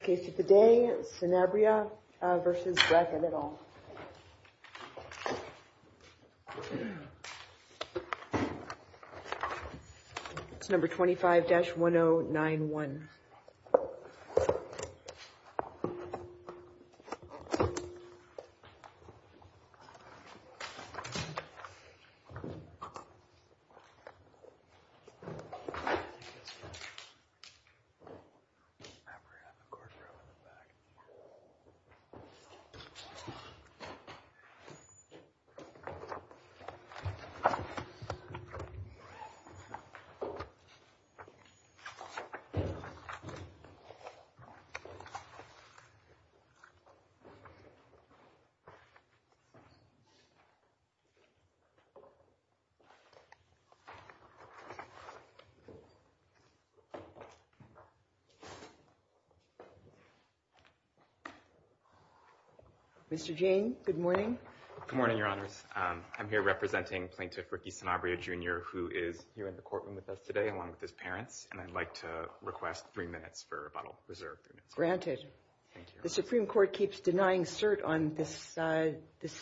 Case of the day, Sanabria v. Brackett et al. It's number 25-1091. Throw it in the back. Mr. Jane, good morning. Good morning, Your Honors. I'm here representing Plaintiff Ricky Sanabria Jr. who is here in the courtroom with us today along with his parents. And I'd like to request three minutes for bottle reserve. Granted. Thank you. The Supreme Court keeps denying cert on this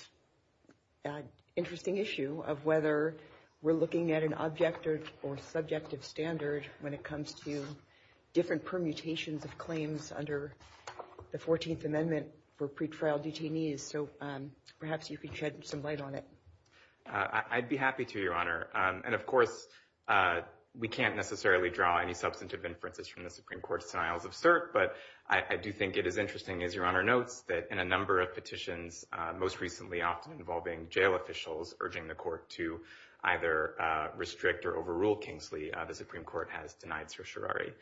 interesting issue of whether we're looking at an objective or subjective standard when it comes to different permutations of claims under the 14th Amendment for pretrial detainees. So perhaps you could shed some light on it. I'd be happy to, Your Honor. And, of course, we can't necessarily draw any substantive inferences from the Supreme Court's denials of cert. But I do think it is interesting, as Your Honor notes, that in a number of petitions, most recently often involving jail officials, urging the court to either restrict or overrule Kingsley, the Supreme Court has denied certiorari.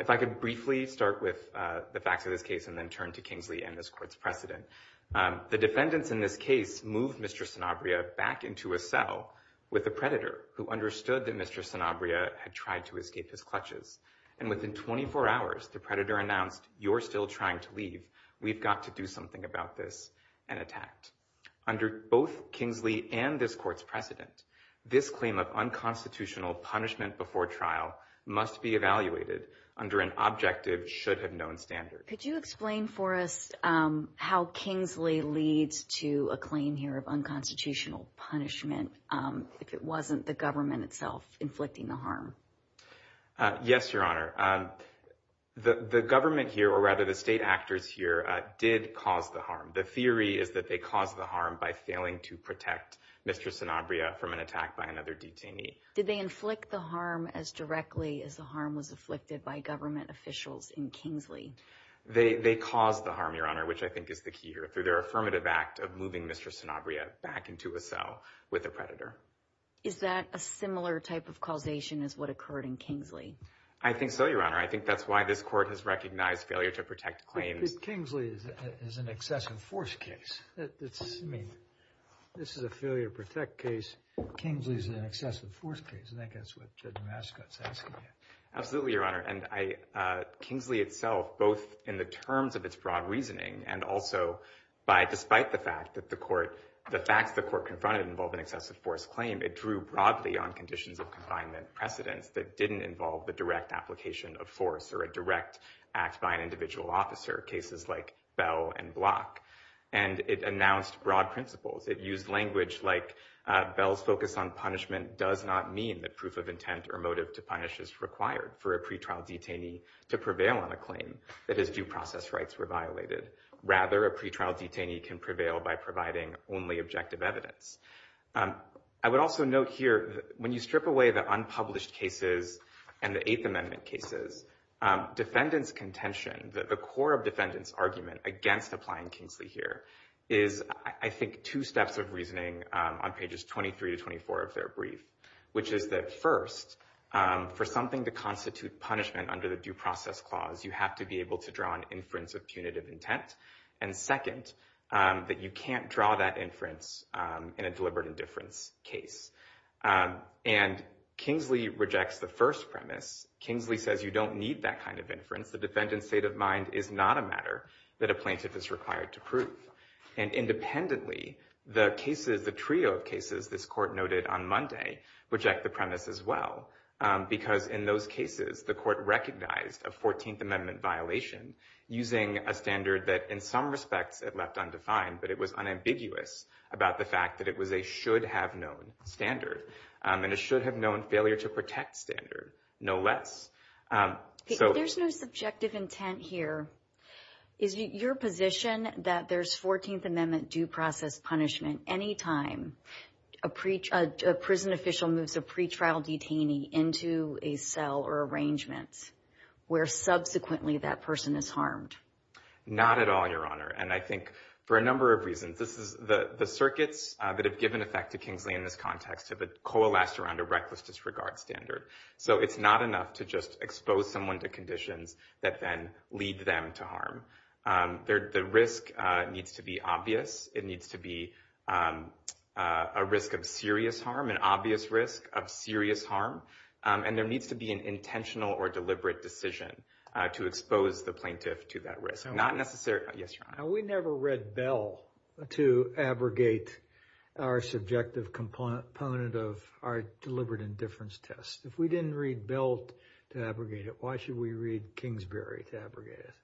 If I could briefly start with the facts of this case and then turn to Kingsley and this court's precedent. The defendants in this case moved Mr. Sanabria back into a cell with a predator who understood that Mr. Sanabria had tried to escape his clutches. And within 24 hours, the predator announced, You're still trying to leave. We've got to do something about this, and attacked. Under both Kingsley and this court's precedent, this claim of unconstitutional punishment before trial must be evaluated under an objective should-have-known standard. Could you explain for us how Kingsley leads to a claim here of unconstitutional punishment if it wasn't the government itself inflicting the harm? Yes, Your Honor. The government here, or rather the state actors here, did cause the harm. The theory is that they caused the harm by failing to protect Mr. Sanabria from an attack by another detainee. Did they inflict the harm as directly as the harm was afflicted by government officials in Kingsley? They caused the harm, Your Honor, which I think is the key here, through their affirmative act of moving Mr. Sanabria back into a cell with a predator. Is that a similar type of causation as what occurred in Kingsley? I think so, Your Honor. I think that's why this court has recognized failure to protect claims. But Kingsley is an excessive force case. I mean, this is a failure to protect case. Kingsley is an excessive force case. I think that's what Judge Mascot is asking here. Absolutely, Your Honor. Kingsley itself, both in the terms of its broad reasoning and also despite the fact that the facts the court confronted involved an excessive force claim, it drew broadly on conditions of confinement precedence that didn't involve the direct application of force or a direct act by an individual officer, cases like Bell and Block. And it announced broad principles. It used language like Bell's focus on punishment does not mean that proof of intent or motive to punish is required for a pretrial detainee to prevail on a claim that his due process rights were violated. Rather, a pretrial detainee can prevail by providing only objective evidence. I would also note here, when you strip away the unpublished cases and the Eighth Amendment cases, defendants' contention, the core of defendants' argument against applying Kingsley here, is, I think, two steps of reasoning on pages 23 to 24 of their brief, which is that, first, for something to constitute punishment under the Due Process Clause, you have to be able to draw an inference of punitive intent. And, second, that you can't draw that inference in a deliberate indifference case. And Kingsley rejects the first premise. Kingsley says you don't need that kind of inference. The defendant's state of mind is not a matter that a plaintiff is required to prove. And independently, the trio of cases this court noted on Monday reject the premise as well, because in those cases, the court recognized a 14th Amendment violation using a standard that, in some respects, it left undefined, but it was unambiguous about the fact that it was a should-have-known standard, and a should-have-known failure-to-protect standard, no less. If there's no subjective intent here, is it your position that there's 14th Amendment due process punishment any time a prison official moves a pretrial detainee into a cell or arrangement where subsequently that person is harmed? Not at all, Your Honor. And I think for a number of reasons. The circuits that have given effect to Kingsley in this context have coalesced around a reckless disregard standard. So it's not enough to just expose someone to conditions that then lead them to harm. The risk needs to be obvious. It needs to be a risk of serious harm, an obvious risk of serious harm. And there needs to be an intentional or deliberate decision to expose the plaintiff to that risk. We never read Bell to abrogate our subjective component of our deliberate indifference test. If we didn't read Bell to abrogate it, why should we read Kingsbury to abrogate it?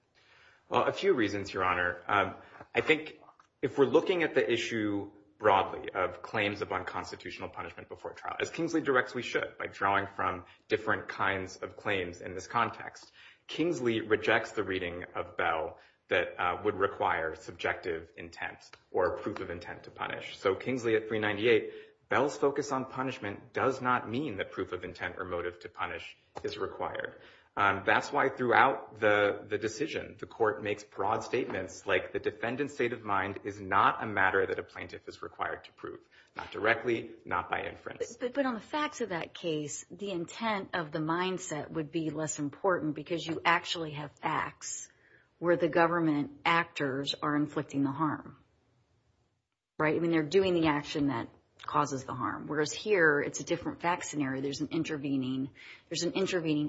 Well, a few reasons, Your Honor. I think if we're looking at the issue broadly of claims of unconstitutional punishment before trial, as Kingsley directs, we should by drawing from different kinds of claims in this context. Kingsley rejects the reading of Bell that would require subjective intent or proof of intent to punish. So Kingsley at 398, Bell's focus on punishment does not mean that proof of intent or motive to punish is required. That's why throughout the decision, the court makes broad statements like the defendant's state of mind is not a matter that a plaintiff is required to prove. Not directly, not by inference. But on the facts of that case, the intent of the mindset would be less important because you actually have facts where the government actors are inflicting the harm. Right? I mean, they're doing the action that causes the harm. Whereas here, it's a different fact scenario. There's an intervening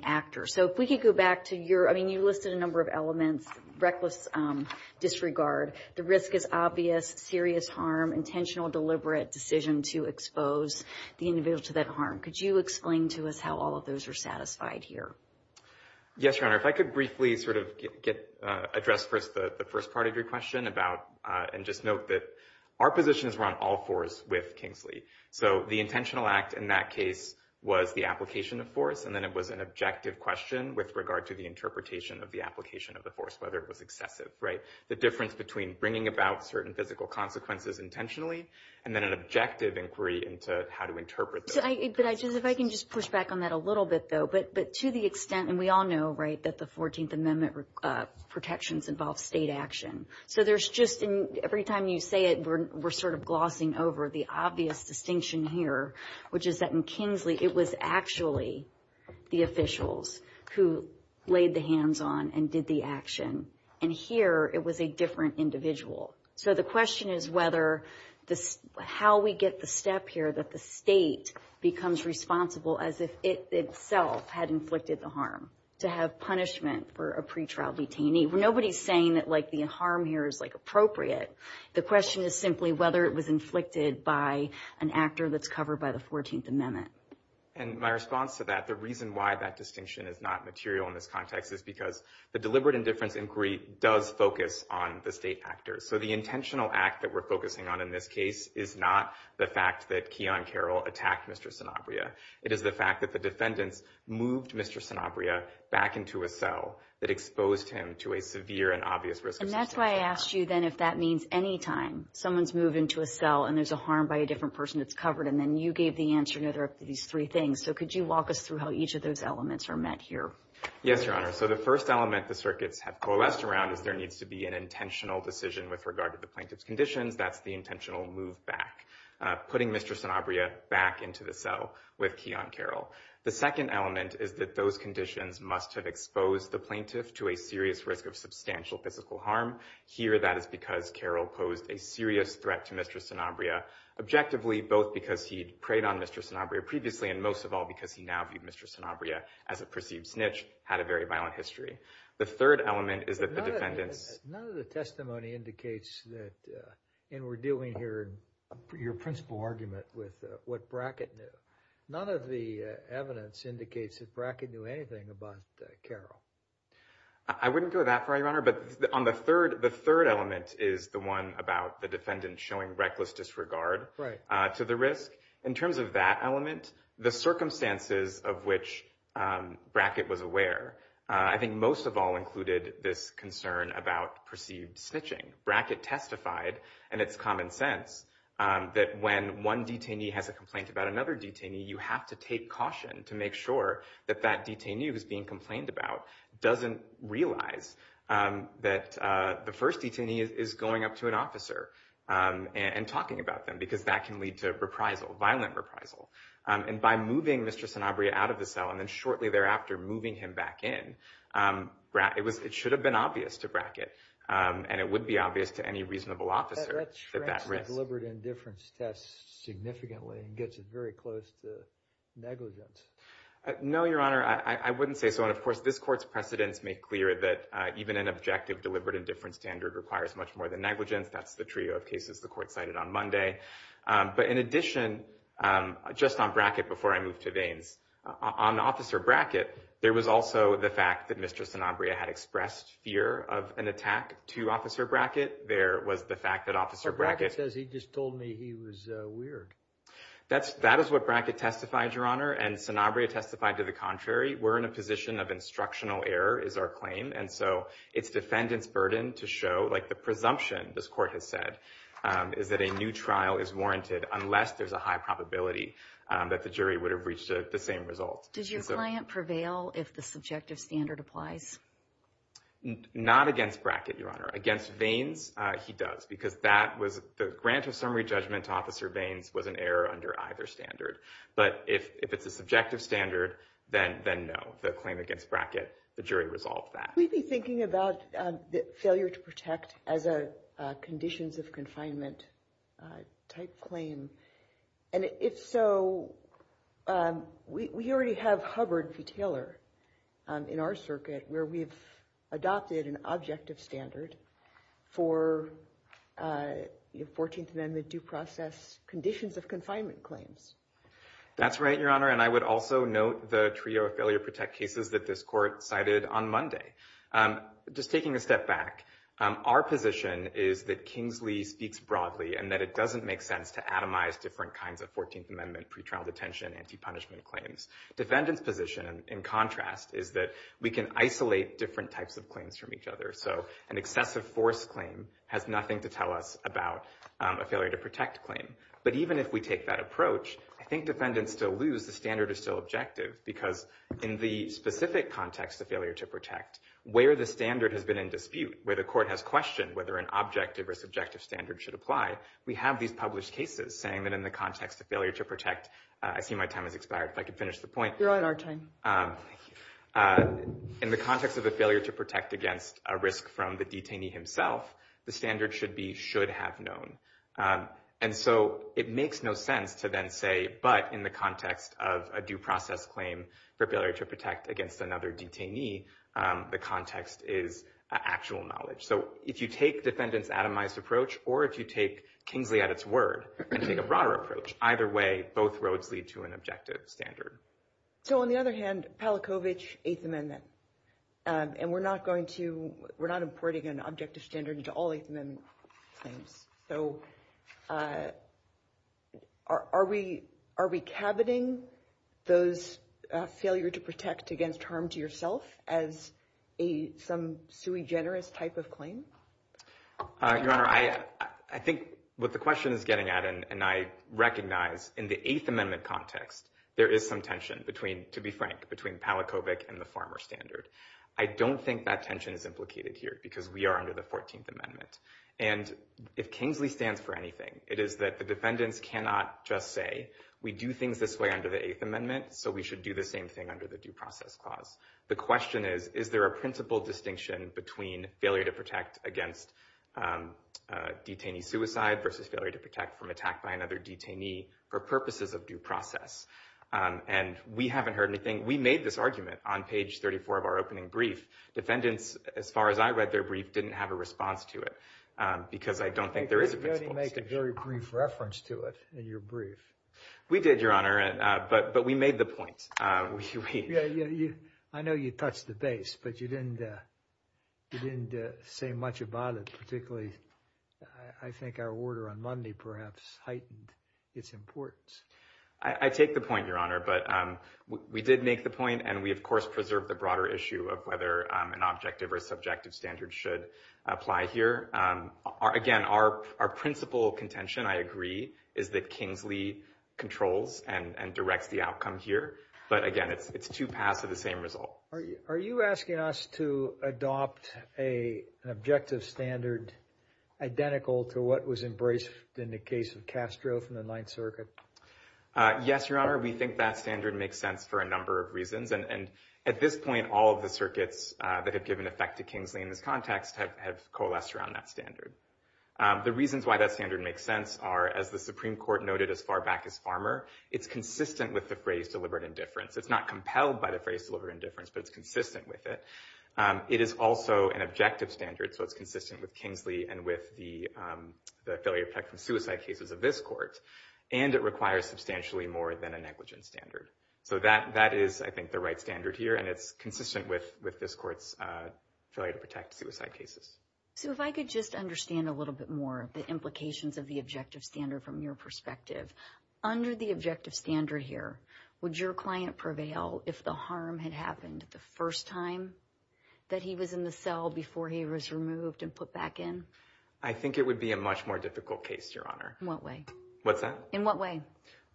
actor. So if we could go back to your, I mean, you listed a number of elements, reckless disregard, the risk is obvious, serious harm, and then some intentional deliberate decision to expose the individual to that harm. Could you explain to us how all of those are satisfied here? Yes, Your Honor. If I could briefly sort of address first the first part of your question about, and just note that our positions were on all fours with Kingsley. So the intentional act in that case was the application of force, and then it was an objective question with regard to the interpretation of the application of the force, whether it was excessive. Right? The difference between bringing about certain physical consequences intentionally and then an objective inquiry into how to interpret those consequences. If I can just push back on that a little bit, though. But to the extent, and we all know, right, that the 14th Amendment protections involve state action. So there's just, every time you say it, we're sort of glossing over the obvious distinction here, which is that in Kingsley, it was actually the officials who laid the hands on and did the action. And here, it was a different individual. So the question is whether, how we get the step here that the state becomes responsible as if it itself had inflicted the harm, to have punishment for a pretrial detainee. Nobody's saying that, like, the harm here is, like, appropriate. The question is simply whether it was inflicted by an actor that's covered by the 14th Amendment. And my response to that, the reason why that distinction is not material in this context, is because the deliberate indifference inquiry does focus on the state actor. So the intentional act that we're focusing on in this case is not the fact that Keon Carroll attacked Mr. Sanabria. It is the fact that the defendants moved Mr. Sanabria back into a cell that exposed him to a severe and obvious risk of substantial harm. And that's why I asked you then if that means any time someone's moved into a cell and there's a harm by a different person that's covered, and then you gave the answer to these three things. So could you walk us through how each of those elements are met here? Yes, Your Honor. So the first element the circuits have coalesced around is there needs to be an intentional decision with regard to the plaintiff's conditions. That's the intentional move back, putting Mr. Sanabria back into the cell with Keon Carroll. The second element is that those conditions must have exposed the plaintiff to a serious risk of substantial physical harm. Here that is because Carroll posed a serious threat to Mr. Sanabria, objectively both because he'd preyed on Mr. Sanabria previously and most of all because he now viewed Mr. Sanabria as a perceived snitch, had a very violent history. The third element is that the defendants— None of the testimony indicates that, and we're dealing here in your principal argument with what Brackett knew, none of the evidence indicates that Brackett knew anything about Carroll. I wouldn't go that far, Your Honor, but on the third element is the one about the defendants showing reckless disregard to the risk. In terms of that element, the circumstances of which Brackett was aware, I think most of all included this concern about perceived snitching. Brackett testified, and it's common sense, that when one detainee has a complaint about another detainee, you have to take caution to make sure that that detainee who's being complained about doesn't realize that the first detainee is going up to an officer and talking about them because that can lead to reprisal, violent reprisal. And by moving Mr. Sanabria out of the cell, and then shortly thereafter moving him back in, it should have been obvious to Brackett, and it would be obvious to any reasonable officer that that risk— That strengthens the deliberate indifference test significantly and gets it very close to negligence. No, Your Honor, I wouldn't say so, and of course this Court's precedents make clear that even an objective deliberate indifference standard requires much more than negligence. That's the trio of cases the Court cited on Monday. But in addition, just on Brackett before I move to Vaines, on Officer Brackett, there was also the fact that Mr. Sanabria had expressed fear of an attack to Officer Brackett. There was the fact that Officer Brackett— But Brackett says he just told me he was weird. That is what Brackett testified, Your Honor, and Sanabria testified to the contrary. We're in a position of instructional error, is our claim, and so it's defendant's burden to show— like the presumption this Court has said is that a new trial is warranted unless there's a high probability that the jury would have reached the same result. Did your client prevail if the subjective standard applies? Not against Brackett, Your Honor. Against Vaines, he does, because that was— the grant of summary judgment to Officer Vaines was an error under either standard. But if it's a subjective standard, then no. The claim against Brackett, the jury resolved that. Could we be thinking about the failure to protect as a conditions of confinement type claim? And if so, we already have Hubbard v. Taylor in our circuit where we've adopted an objective standard for 14th Amendment due process conditions of confinement claims. That's right, Your Honor, and I would also note the trio of failure to protect cases that this Court cited on Monday. Just taking a step back, our position is that Kingsley speaks broadly and that it doesn't make sense to atomize different kinds of 14th Amendment pretrial detention anti-punishment claims. Defendant's position, in contrast, is that we can isolate different types of claims from each other. So an excessive force claim has nothing to tell us about a failure to protect claim. But even if we take that approach, I think defendants still lose. The standard is still objective because in the specific context of failure to protect, where the standard has been in dispute, where the Court has questioned whether an objective or subjective standard should apply, we have these published cases saying that in the context of failure to protect... I see my time has expired. If I could finish the point. You're on our time. In the context of a failure to protect against a risk from the detainee himself, the standard should have known. And so it makes no sense to then say, but in the context of a due process claim for failure to protect against another detainee, the context is actual knowledge. So if you take defendants' atomized approach or if you take Kingsley at its word and take a broader approach, either way, both roads lead to an objective standard. So on the other hand, Palachowicz, Eighth Amendment. And we're not going to... We're not importing an objective standard into all Eighth Amendment claims. So are we caboting those failure to protect against harm to yourself as some sui generis type of claim? Your Honor, I think what the question is getting at, and I recognize in the Eighth Amendment context, there is some tension between, to be frank, between Palachowicz and the farmer standard. I don't think that tension is implicated here because we are under the 14th Amendment. And if Kingsley stands for anything, it is that the defendants cannot just say, we do things this way under the Eighth Amendment, so we should do the same thing under the due process clause. The question is, is there a principle distinction between failure to protect against detainee suicide versus failure to protect from attack by another detainee for purposes of due process? And we haven't heard anything. We made this argument on page 34 of our opening brief. Defendants, as far as I read their brief, didn't have a response to it because I don't think there is a principle distinction. You didn't make a very brief reference to it in your brief. We did, Your Honor, but we made the point. I know you touched the base, but you didn't say much about it, particularly I think our order on Monday perhaps heightened its importance. I take the point, Your Honor, but we did make the point, and we of course preserved the broader issue of whether an objective or subjective standard should apply here. Again, our principal contention, I agree, is that Kingsley controls and directs the outcome here. But again, it's two paths of the same result. Are you asking us to adopt an objective standard identical to what was embraced in the case of Castro from the Ninth Circuit? Yes, Your Honor. We think that standard makes sense for a number of reasons. At this point, all of the circuits that have given effect to Kingsley in this context have coalesced around that standard. The reasons why that standard makes sense are, as the Supreme Court noted as far back as Farmer, it's consistent with the phrase deliberate indifference. It's not compelled by the phrase deliberate indifference, but it's consistent with it. It is also an objective standard, so it's consistent with Kingsley and with the failure to protect from suicide cases of this court, and it requires substantially more than a negligence standard. So that is, I think, the right standard here, and it's consistent with this court's failure to protect suicide cases. So if I could just understand a little bit more of the implications of the objective standard from your perspective. Under the objective standard here, would your client prevail if the harm had happened the first time that he was in the cell before he was removed and put back in? I think it would be a much more difficult case, Your Honor. In what way? What's that? In what way?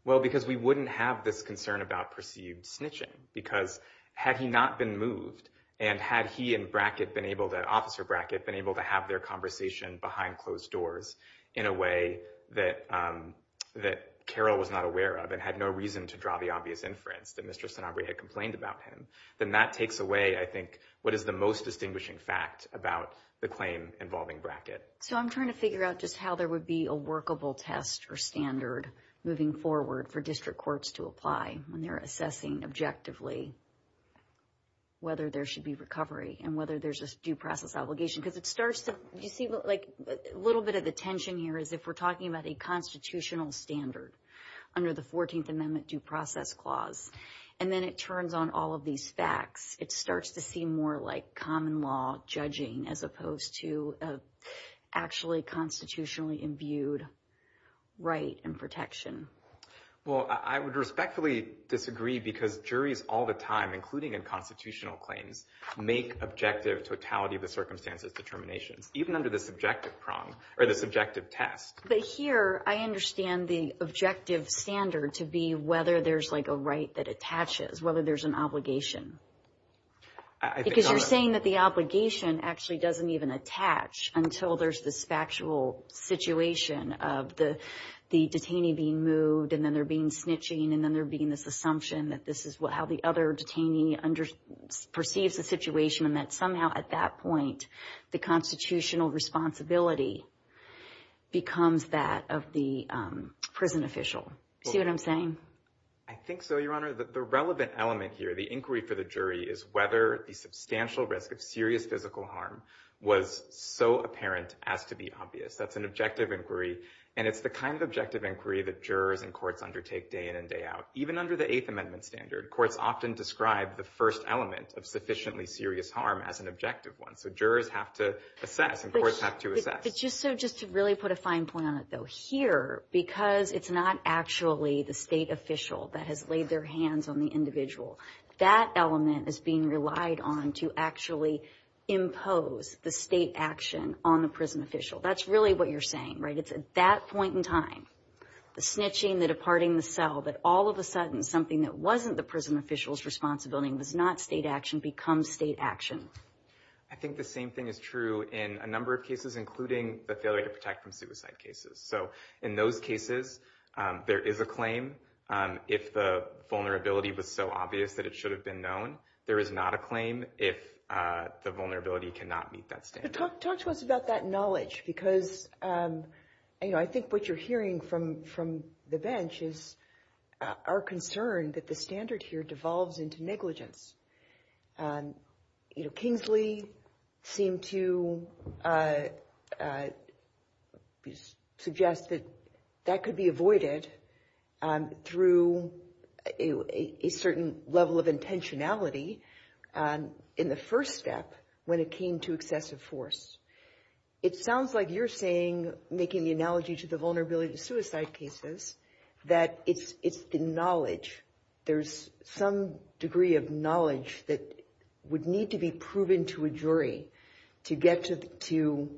Well, because we wouldn't have this concern about perceived snitching because had he not been moved and had he and Brackett been able to, Officer Brackett, been able to have their conversation behind closed doors in a way that Carol was not aware of and had no reason to draw the obvious inference that Mr. Sanabria had complained about him, then that takes away, I think, what is the most distinguishing fact about the claim involving Brackett. So I'm trying to figure out just how there would be a workable test or standard moving forward for district courts to apply when they're assessing objectively whether there should be recovery and whether there's a due process obligation because it starts to, you see, like a little bit of the tension here is if we're talking about a constitutional standard under the 14th Amendment due process clause and then it turns on all of these facts, it starts to seem more like common law judging as opposed to actually constitutionally imbued right and protection. Well, I would respectfully disagree because juries all the time, including in constitutional claims, make objective totality of the circumstances determinations even under the subjective test. But here, I understand the objective standard to be whether there's like a right that attaches, whether there's an obligation. Because you're saying that the obligation actually doesn't even attach until there's this factual situation of the detainee being moved and then they're being snitching and then there being this assumption that this is how the other detainee perceives the situation and that somehow at that point the constitutional responsibility becomes that of the prison official. See what I'm saying? I think so, Your Honor. The relevant element here, the inquiry for the jury, is whether the substantial risk of serious physical harm was so apparent as to be obvious. That's an objective inquiry and it's the kind of objective inquiry that jurors and courts undertake day in and day out. Even under the Eighth Amendment standard, courts often describe the first element of sufficiently serious harm as an objective one. So jurors have to assess and courts have to assess. But just to really put a fine point on it though, here, because it's not actually the state official that has laid their hands on the individual, that element is being relied on to actually impose the state action on the prison official. That's really what you're saying, right? It's at that point in time, the snitching, the departing the cell, that all of a sudden something that wasn't the prison official's responsibility was not state action becomes state action. I think the same thing is true in a number of cases, including the failure to protect from suicide cases. In those cases, there is a claim. If the vulnerability was so obvious that it should have been known, there is not a claim if the vulnerability cannot meet that standard. Talk to us about that knowledge because I think what you're hearing from the bench is our concern that the standard here devolves into negligence. Kingsley seemed to suggest that that could be avoided through a certain level of intentionality in the first step when it came to excessive force. It sounds like you're saying, making the analogy to the vulnerability to suicide cases, that it's the knowledge. There's some degree of knowledge that would need to be proven to a jury to get to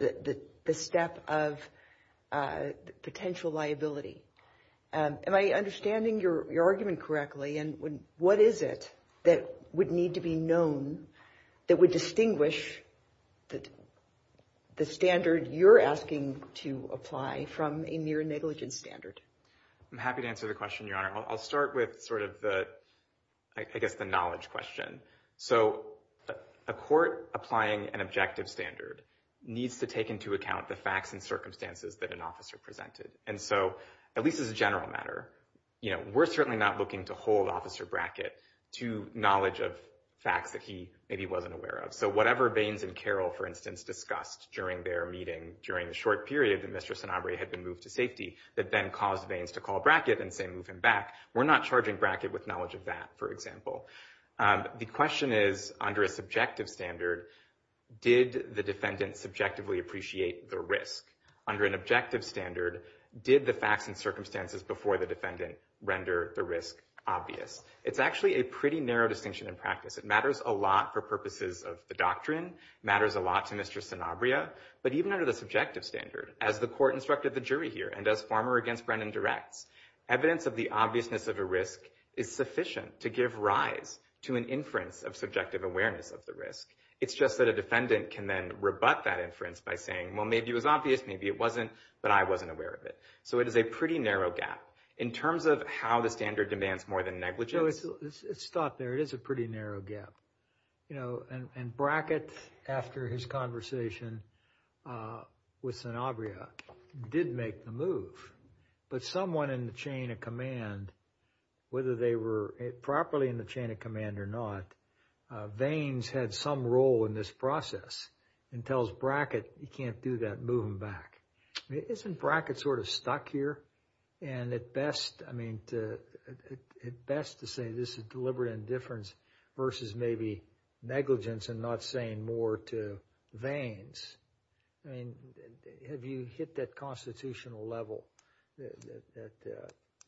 the step of potential liability. Am I understanding your argument correctly? What is it that would need to be known that would distinguish the standard you're asking to apply from a near negligence standard? I'm happy to answer the question, Your Honor. I'll start with the knowledge question. A court applying an objective standard needs to take into account the facts and circumstances that an officer presented. At least as a general matter, we're certainly not looking to hold Officer Brackett to knowledge of facts that he maybe wasn't aware of. Whatever Baines and Carroll, for instance, discussed during their meeting during the short period that Mr. Sanabria had been moved to safety that then caused Baines to call Brackett and say, move him back, we're not charging Brackett with knowledge of that, for example. The question is, under a subjective standard, did the defendant subjectively appreciate the risk? Under an objective standard, did the facts and circumstances before the defendant render the risk obvious? It's actually a pretty narrow distinction in practice. It matters a lot for purposes of the doctrine, matters a lot to Mr. Sanabria, but even under the subjective standard, as the court instructed the jury here, and as Farmer against Brennan directs, evidence of the obviousness of a risk is sufficient to give rise to an inference of subjective awareness of the risk. It's just that a defendant can then rebut that inference by saying, well, maybe it was obvious, maybe it wasn't, but I wasn't aware of it. So it is a pretty narrow gap. In terms of how the standard demands more than negligence... No, let's stop there. It is a pretty narrow gap. And Brackett, after his conversation with Sanabria, did make the move. But someone in the chain of command, whether they were properly in the chain of command or not, veins had some role in this process and tells Brackett he can't do that, move him back. Isn't Brackett sort of stuck here? And at best, I mean, at best to say this is deliberate indifference versus maybe negligence and not saying more to veins. I mean, have you hit that constitutional level that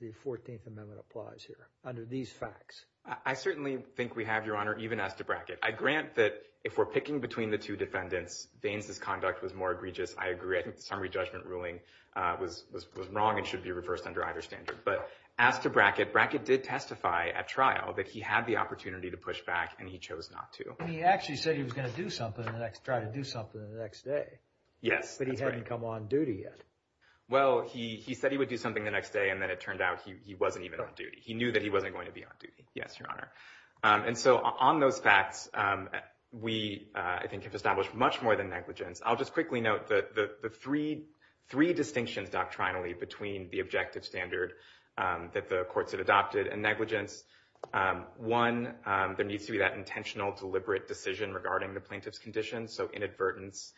the 14th Amendment applies here under these facts? I certainly think we have, Your Honor, even as to Brackett. I grant that if we're picking between the two defendants, veins' conduct was more egregious. I agree. I think the summary judgment ruling was wrong and should be reversed under either standard. But as to Brackett, Brackett did testify at trial that he had the opportunity to push back and he chose not to. He actually said he was going to do something, try to do something the next day. Yes. But he hadn't come on duty yet. Well, he said he would do something the next day and then it turned out he wasn't even on duty. He knew that he wasn't going to be on duty. Yes, Your Honor. And so on those facts, we, I think, have established much more than negligence. I'll just quickly note the three distinctions doctrinally between the objective standard that the courts had adopted and negligence. One, there needs to be that intentional, deliberate decision regarding the plaintiff's condition, so inadvertence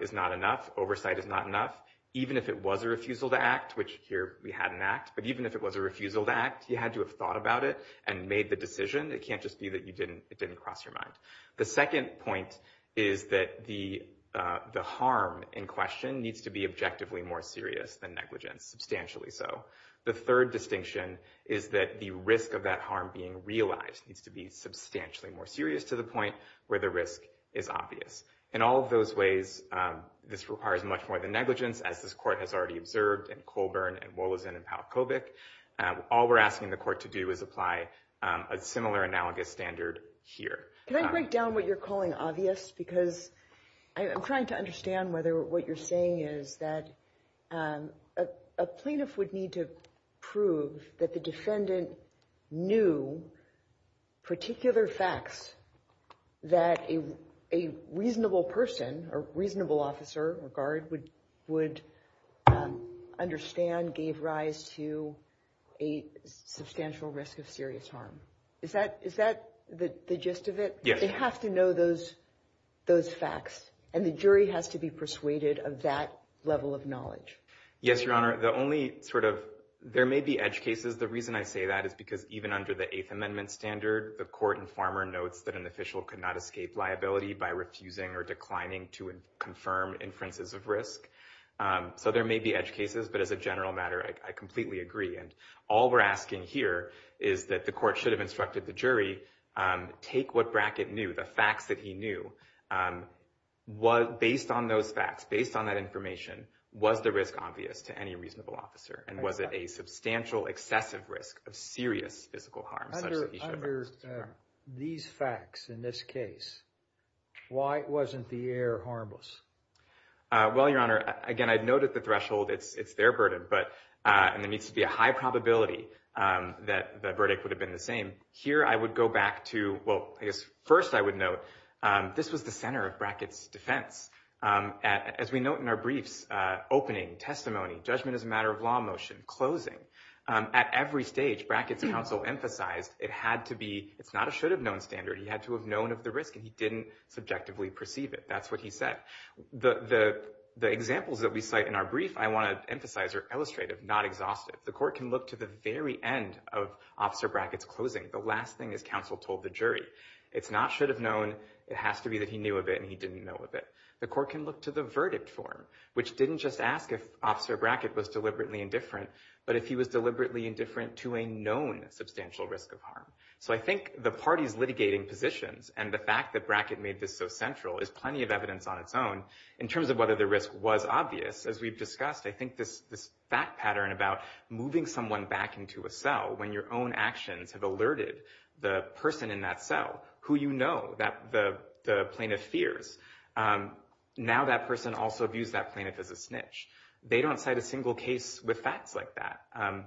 is not enough, oversight is not enough. Even if it was a refusal to act, which here we had an act, but even if it was a refusal to act, you had to have thought about it and made the decision. It can't just be that it didn't cross your mind. The second point is that the harm in question needs to be objectively more serious than negligence, substantially so. The third distinction is that the risk of that harm being realized needs to be substantially more serious to the point where the risk is obvious. In all of those ways, this requires much more than negligence, as this Court has already observed in Colburn and Wolozin and Palkovic. All we're asking the Court to do is apply a similar analogous standard here. Can I break down what you're calling obvious? Because I'm trying to understand whether what you're saying is that a plaintiff would need to prove that the defendant knew particular facts that a reasonable person or reasonable officer or guard would understand gave rise to a substantial risk of serious harm. Is that the gist of it? They have to know those facts, and the jury has to be persuaded of that level of knowledge. Yes, Your Honor. There may be edge cases. The reason I say that is because even under the Eighth Amendment standard, the court informer notes that an official could not escape liability by refusing or declining to confirm inferences of risk. So there may be edge cases, but as a general matter, I completely agree. All we're asking here is that the Court should have instructed the jury take what Brackett knew, the facts that he knew, based on those facts, based on that information, was the risk obvious to any reasonable officer? And was it a substantial, excessive risk of serious physical harm such that he should have refused to confirm? Under these facts in this case, why wasn't the heir harmless? Well, Your Honor, again, I'd note at the threshold it's their burden, but there needs to be a high probability that the verdict would have been the same. Here I would go back to, well, I guess first I would note this was the center of Brackett's defense. As we note in our briefs, opening, testimony, judgment as a matter of law motion, closing, at every stage Brackett's counsel emphasized it had to be, it's not a should-have-known standard, he had to have known of the risk and he didn't subjectively perceive it. That's what he said. The examples that we cite in our brief, I want to emphasize are illustrative, not exhaustive. The Court can look to the very end of Officer Brackett's closing, the last thing his counsel told the jury. It's not should-have-known, it has to be that he knew of it and he didn't know of it. The Court can look to the verdict form, which didn't just ask if Officer Brackett was deliberately indifferent, but if he was deliberately indifferent to a known substantial risk of harm. So I think the parties litigating positions and the fact that Brackett made this so central is plenty of evidence on its own. In terms of whether the risk was obvious, as we've discussed, I think this fact pattern about moving someone back into a cell when your own actions have alerted the person in that cell, who you know, the plaintiff fears, now that person also views that plaintiff as a snitch. They don't cite a single case with facts like that.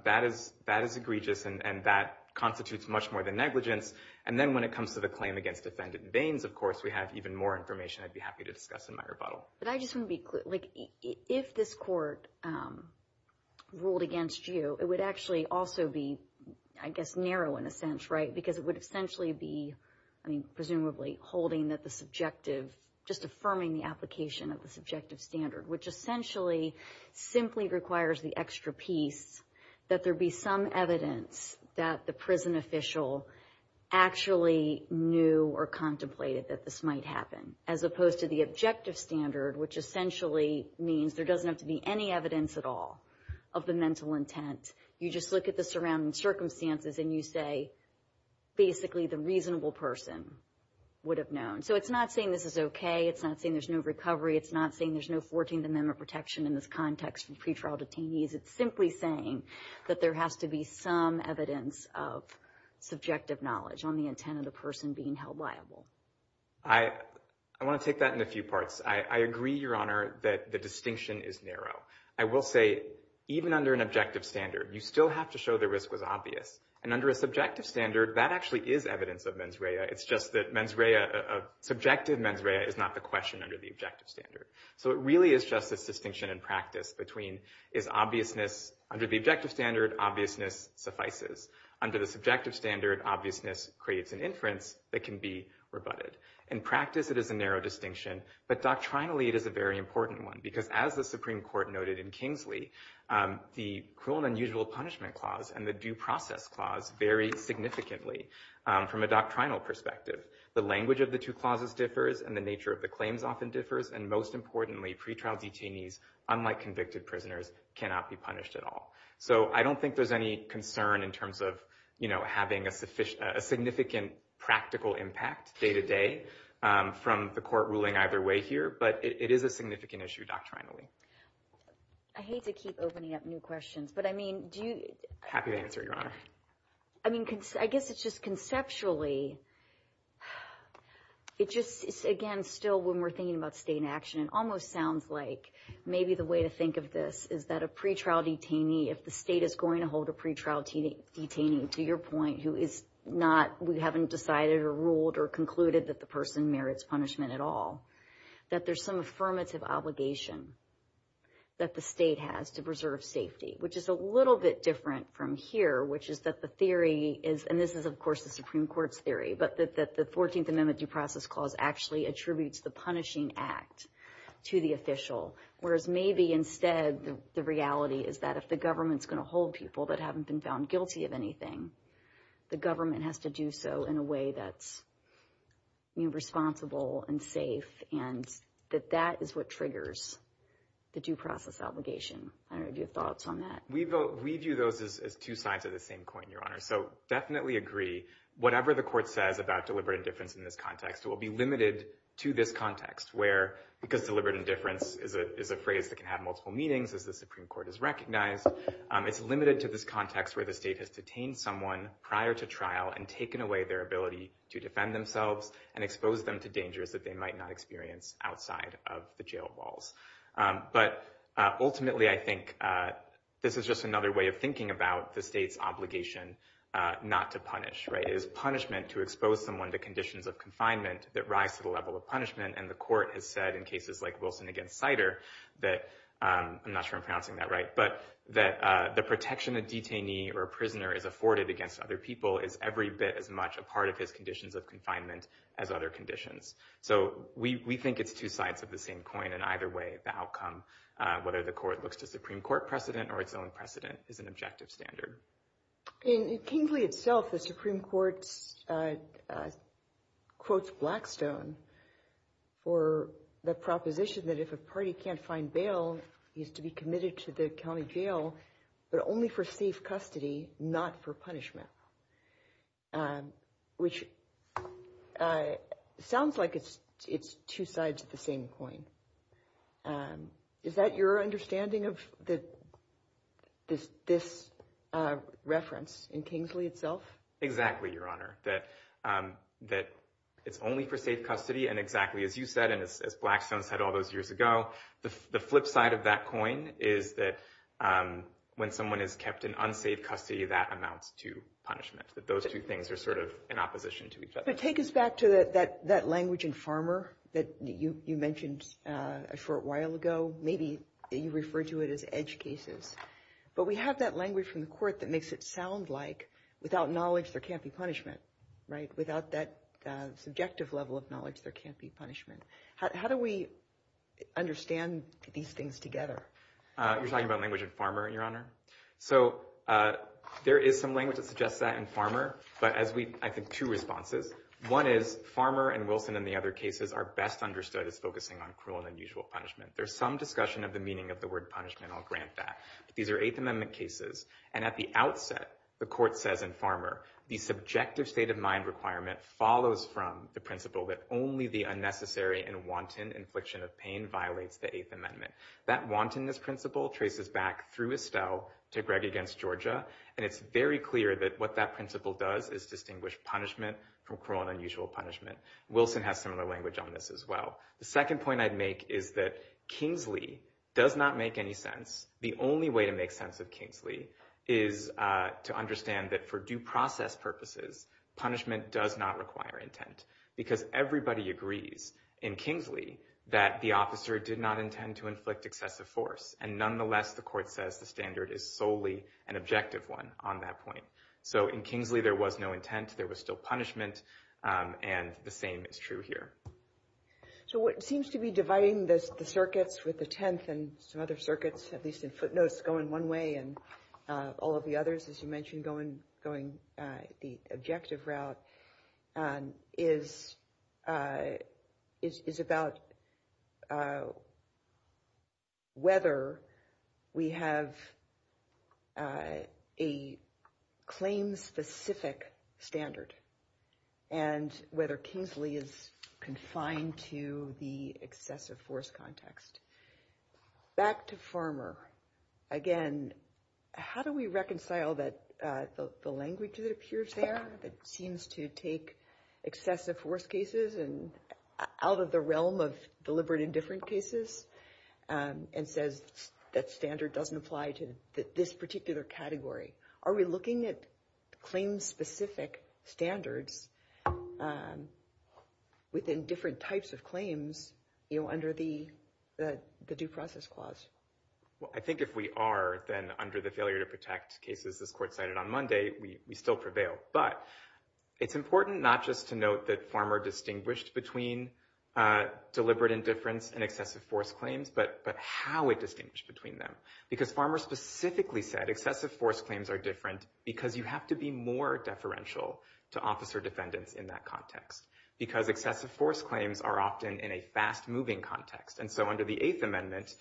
That is egregious and that constitutes much more than negligence. And then when it comes to the claim against defendant Baines, of course, we have even more information I'd be happy to discuss in my rebuttal. But I just want to be clear. If this Court ruled against you, it would actually also be, I guess, narrow in a sense, right? Because it would essentially be, I mean, presumably, holding that the subjective, just affirming the application of the subjective standard, which essentially simply requires the extra piece that there be some evidence that the prison official actually knew or contemplated that this might happen, as opposed to the objective standard, which essentially means there doesn't have to be any evidence at all of the mental intent. You just look at the surrounding circumstances and you say, basically, the reasonable person would have known. So it's not saying this is okay. It's not saying there's no recovery. It's not saying there's no 14th Amendment protection in this context for pretrial detainees. It's simply saying that there has to be some evidence of subjective knowledge on the intent of the person being held liable. I want to take that in a few parts. I agree, Your Honor, that the distinction is narrow. I will say, even under an objective standard, you still have to show the risk was obvious. And under a subjective standard, that actually is evidence of mens rea. It's just that mens rea, subjective mens rea, is not the question under the objective standard. So it really is just this distinction in practice between is obviousness, under the objective standard, obviousness suffices. Under the subjective standard, obviousness creates an inference that can be rebutted. In practice, it is a narrow distinction, but doctrinally, it is a very important one, because as the Supreme Court noted in Kingsley, the cruel and unusual punishment clause and the due process clause vary significantly from a doctrinal perspective. The language of the two clauses differs, and the nature of the claims often differs, and most importantly, pretrial detainees, unlike convicted prisoners, cannot be punished at all. So I don't think there's any concern in terms of, you know, having a significant practical impact day to day from the court ruling either way here, but it is a significant issue doctrinally. I hate to keep opening up new questions, but I mean, do you... Happy to answer, Your Honor. I mean, I guess it's just conceptually, it just, again, still, when we're thinking about state action, it almost sounds like maybe the way to think of this is that a pretrial detainee, if the state is going to hold a pretrial detainee, to your point, who is not, we haven't decided or ruled or concluded that the person merits punishment at all, that there's some affirmative obligation that the state has to preserve safety, which is a little bit different from here, which is that the theory is, and this is, of course, the Supreme Court's theory, but that the 14th Amendment Due Process Clause actually attributes the punishing act to the official, whereas maybe instead the reality is that if the government's going to hold people that haven't been found guilty of anything, the government has to do so in a way that's, you know, safe and that that is what triggers the due process obligation. I don't know if you have thoughts on that. We view those as two sides of the same coin, Your Honor, so definitely agree. Whatever the court says about deliberate indifference in this context will be limited to this context, where, because deliberate indifference is a phrase that can have multiple meanings as the Supreme Court has recognized, it's limited to this context where the state has detained someone prior to trial and taken away their ability to defend themselves and exposed them to dangers that they might not experience outside of the jail walls. But ultimately, I think this is just another way of thinking about the state's obligation not to punish. It is punishment to expose someone to conditions of confinement that rise to the level of punishment, and the court has said in cases like Wilson against Sider that, I'm not sure I'm pronouncing that right, but that the protection a detainee or a prisoner is afforded against other people is every bit as much a part of his conditions of confinement as other conditions. So we think it's two sides of the same coin, and either way, the outcome, whether the court looks to Supreme Court precedent or its own precedent, is an objective standard. In Kingsley itself, the Supreme Court quotes Blackstone for the proposition that if a party can't find bail, he's to be committed to the county jail, but only for safe custody, not for punishment, which sounds like it's two sides of the same coin. Is that your understanding of this reference in Kingsley itself? Exactly, Your Honor, that it's only for safe custody, and exactly as you said, and as Blackstone said all those years ago, the flip side of that coin is that when someone is kept in unsafe custody, that amounts to punishment, that those two things are sort of in opposition to each other. But take us back to that language in Farmer that you mentioned a short while ago. Maybe you refer to it as edge cases, but we have that language from the court that makes it sound like without knowledge, there can't be punishment, right? Without that subjective level of knowledge, there can't be punishment. How do we understand these things together? You're talking about language in Farmer, Your Honor? So there is some language that suggests that in Farmer, but I think two responses. One is Farmer and Wilson and the other cases are best understood as focusing on cruel and unusual punishment. There's some discussion of the meaning of the word punishment, I'll grant that. These are Eighth Amendment cases, and at the outset, the court says in Farmer, the subjective state of mind requirement follows from the principle that only the unnecessary and wanton infliction of pain violates the Eighth Amendment. That wantonness principle traces back through Estelle to Gregg against Georgia, and it's very clear that what that principle does is distinguish punishment from cruel and unusual punishment. Wilson has similar language on this as well. The second point I'd make is that Kingsley does not make any sense. The only way to make sense of Kingsley is to understand that for due process purposes, punishment does not require intent because everybody agrees in Kingsley that the officer did not intend to inflict excessive force, and nonetheless, the court says the standard is solely an objective one on that point. So in Kingsley, there was no intent, there was still punishment, and the same is true here. So what seems to be dividing the circuits with the Tenth and some other circuits, at least in footnotes, going one way and all of the others, as you mentioned, going the objective route, is about whether, whether we have a claim-specific standard and whether Kingsley is confined to the excessive force context. Back to Farmer, again, how do we reconcile that the language that appears there that seems to take excessive force cases and out of the realm of deliberate indifferent cases and says that standard doesn't apply to this particular category? Are we looking at claim-specific standards within different types of claims under the due process clause? Well, I think if we are, then under the failure to protect cases this court cited on Monday, we still prevail. But it's important not just to note that Farmer distinguished between deliberate indifference and excessive force claims, but how it distinguished between them. Because Farmer specifically said excessive force claims are different because you have to be more deferential to officer defendants in that context, because excessive force claims are often in a fast-moving context. And so under the Eighth Amendment,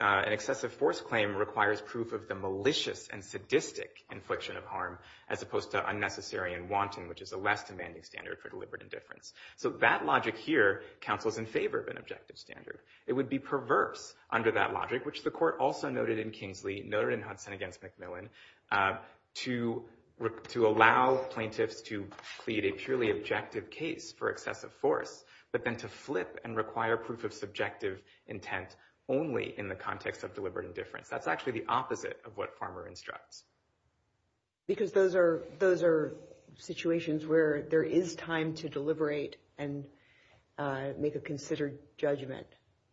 an excessive force claim requires proof of the malicious and sadistic infliction of harm as opposed to unnecessary and wanting, which is a less demanding standard for deliberate indifference. So that logic here counsels in favor of an objective standard. It would be perverse under that logic, which the court also noted in Kingsley, noted in Hudson against McMillan, to allow plaintiffs to plead a purely objective case for excessive force, but then to flip and require proof of subjective intent only in the context of deliberate indifference. That's actually the opposite of what Farmer instructs. Because those are situations where there is time to deliberate and make a considered judgment.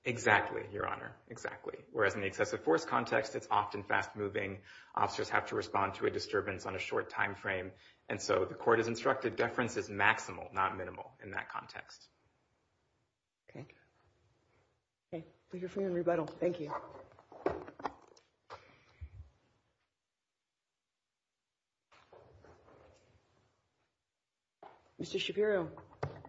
Exactly, Your Honor, exactly. Whereas in the excessive force context, it's often fast-moving. Officers have to respond to a disturbance on a short time frame. And so the court has instructed deference is maximal, not minimal, in that context. Okay. Okay. Thank you for your rebuttal. Thank you. Mr. Shapiro.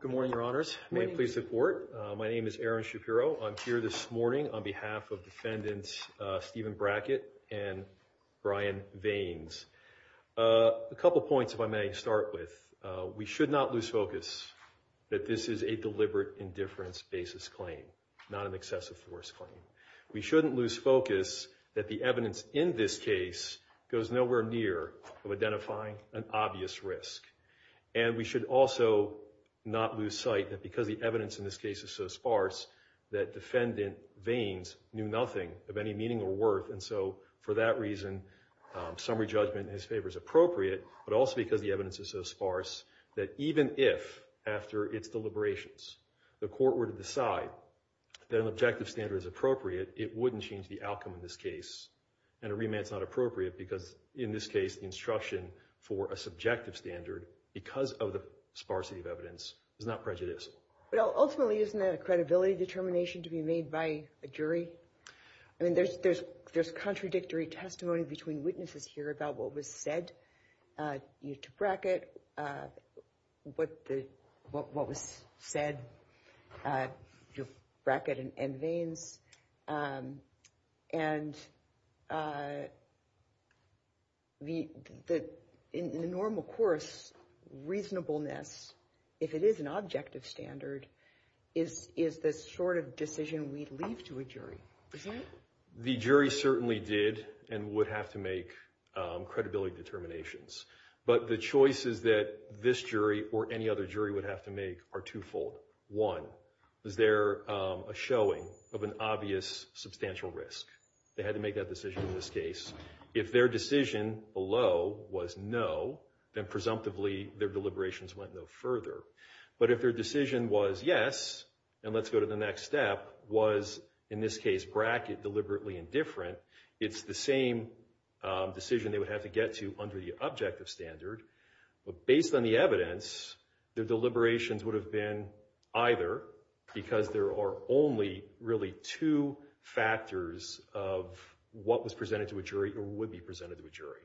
Good morning, Your Honors. May it please the Court. My name is Aaron Shapiro. I'm here this morning on behalf of defendants Stephen Brackett and Brian Vaines. A couple points if I may start with. We should not lose focus that this is a deliberate indifference basis claim, not an excessive force claim. We shouldn't lose focus that the evidence in this case goes nowhere near of identifying an obvious risk. And we should also not lose sight that because the evidence in this case is so sparse that defendant Vaines knew nothing of any meaning or worth. And so for that reason, summary judgment in his favor is appropriate, but also because the evidence is so sparse that even if, after its deliberations, the court were to decide that an objective standard is appropriate, it wouldn't change the outcome in this case. And a remand's not appropriate because, in this case, instruction for a subjective standard because of the sparsity of evidence is not prejudiced. Ultimately, isn't that a credibility determination to be made by a jury? I mean, there's contradictory testimony between witnesses here about what was said, to Brackett, what was said, to Brackett and Vaines. And in the normal course, reasonableness, if it is an objective standard, is the sort of decision we'd leave to a jury. Is that right? The jury certainly did and would have to make credibility determinations. But the choices that this jury or any other jury would have to make are twofold. One, is there a showing of an obvious substantial risk? They had to make that decision in this case. If their decision below was no, then, presumptively, their deliberations went no further. But if their decision was yes, and let's go to the next step, was, in this case, Brackett deliberately indifferent, it's the same decision they would have to get to under the objective standard. But based on the evidence, their deliberations would have been either, because there are only really two factors of what was presented to a jury or would be presented to a jury.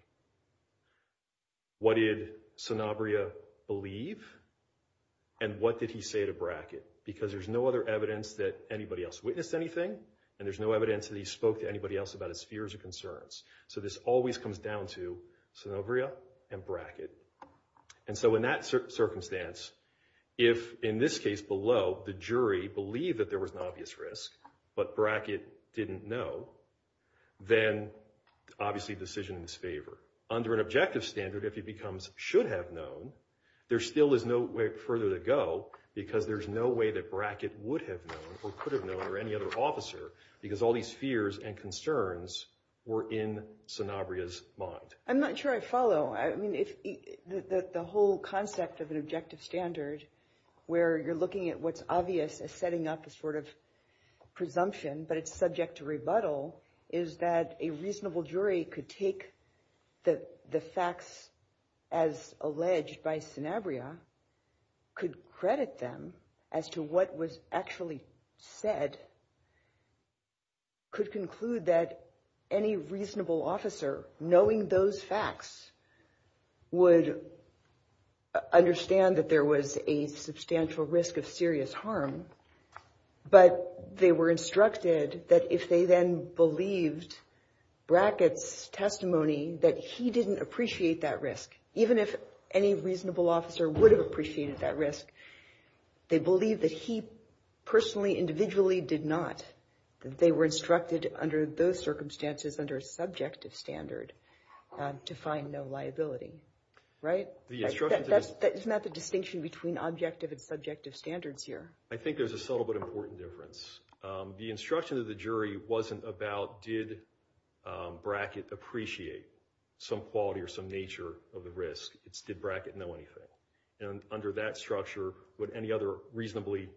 What did Sanabria believe? And what did he say to Brackett? Because there's no other evidence that anybody else witnessed anything, and there's no evidence that he spoke to anybody else about his fears or concerns. So this always comes down to Sanabria and Brackett. And so in that circumstance, if, in this case below, the jury believed that there was an obvious risk, but Brackett didn't know, then, obviously, the decision is in his favor. Under an objective standard, if he becomes should have known, there still is no way further to go because there's no way that Brackett would have known or could have known or any other officer because all these fears and concerns were in Sanabria's mind. I'm not sure I follow. I mean, the whole concept of an objective standard where you're looking at what's obvious as setting up a sort of presumption, but it's subject to rebuttal, is that a reasonable jury could take the facts as alleged by Sanabria, could credit them as to what was actually said, could conclude that any reasonable officer, knowing those facts, would understand that there was a substantial risk of serious harm, but they were instructed that if they then believed Brackett's testimony, that he didn't appreciate that risk, even if any reasonable officer would have appreciated that risk. They believed that he personally, individually did not. They were instructed under those circumstances under a subjective standard to find no liability, right? Isn't that the distinction between objective and subjective standards here? I think there's a subtle but important difference. The instruction of the jury wasn't about did Brackett appreciate some quality or some nature of the risk. It's did Brackett know anything? And under that structure, would any other reasonably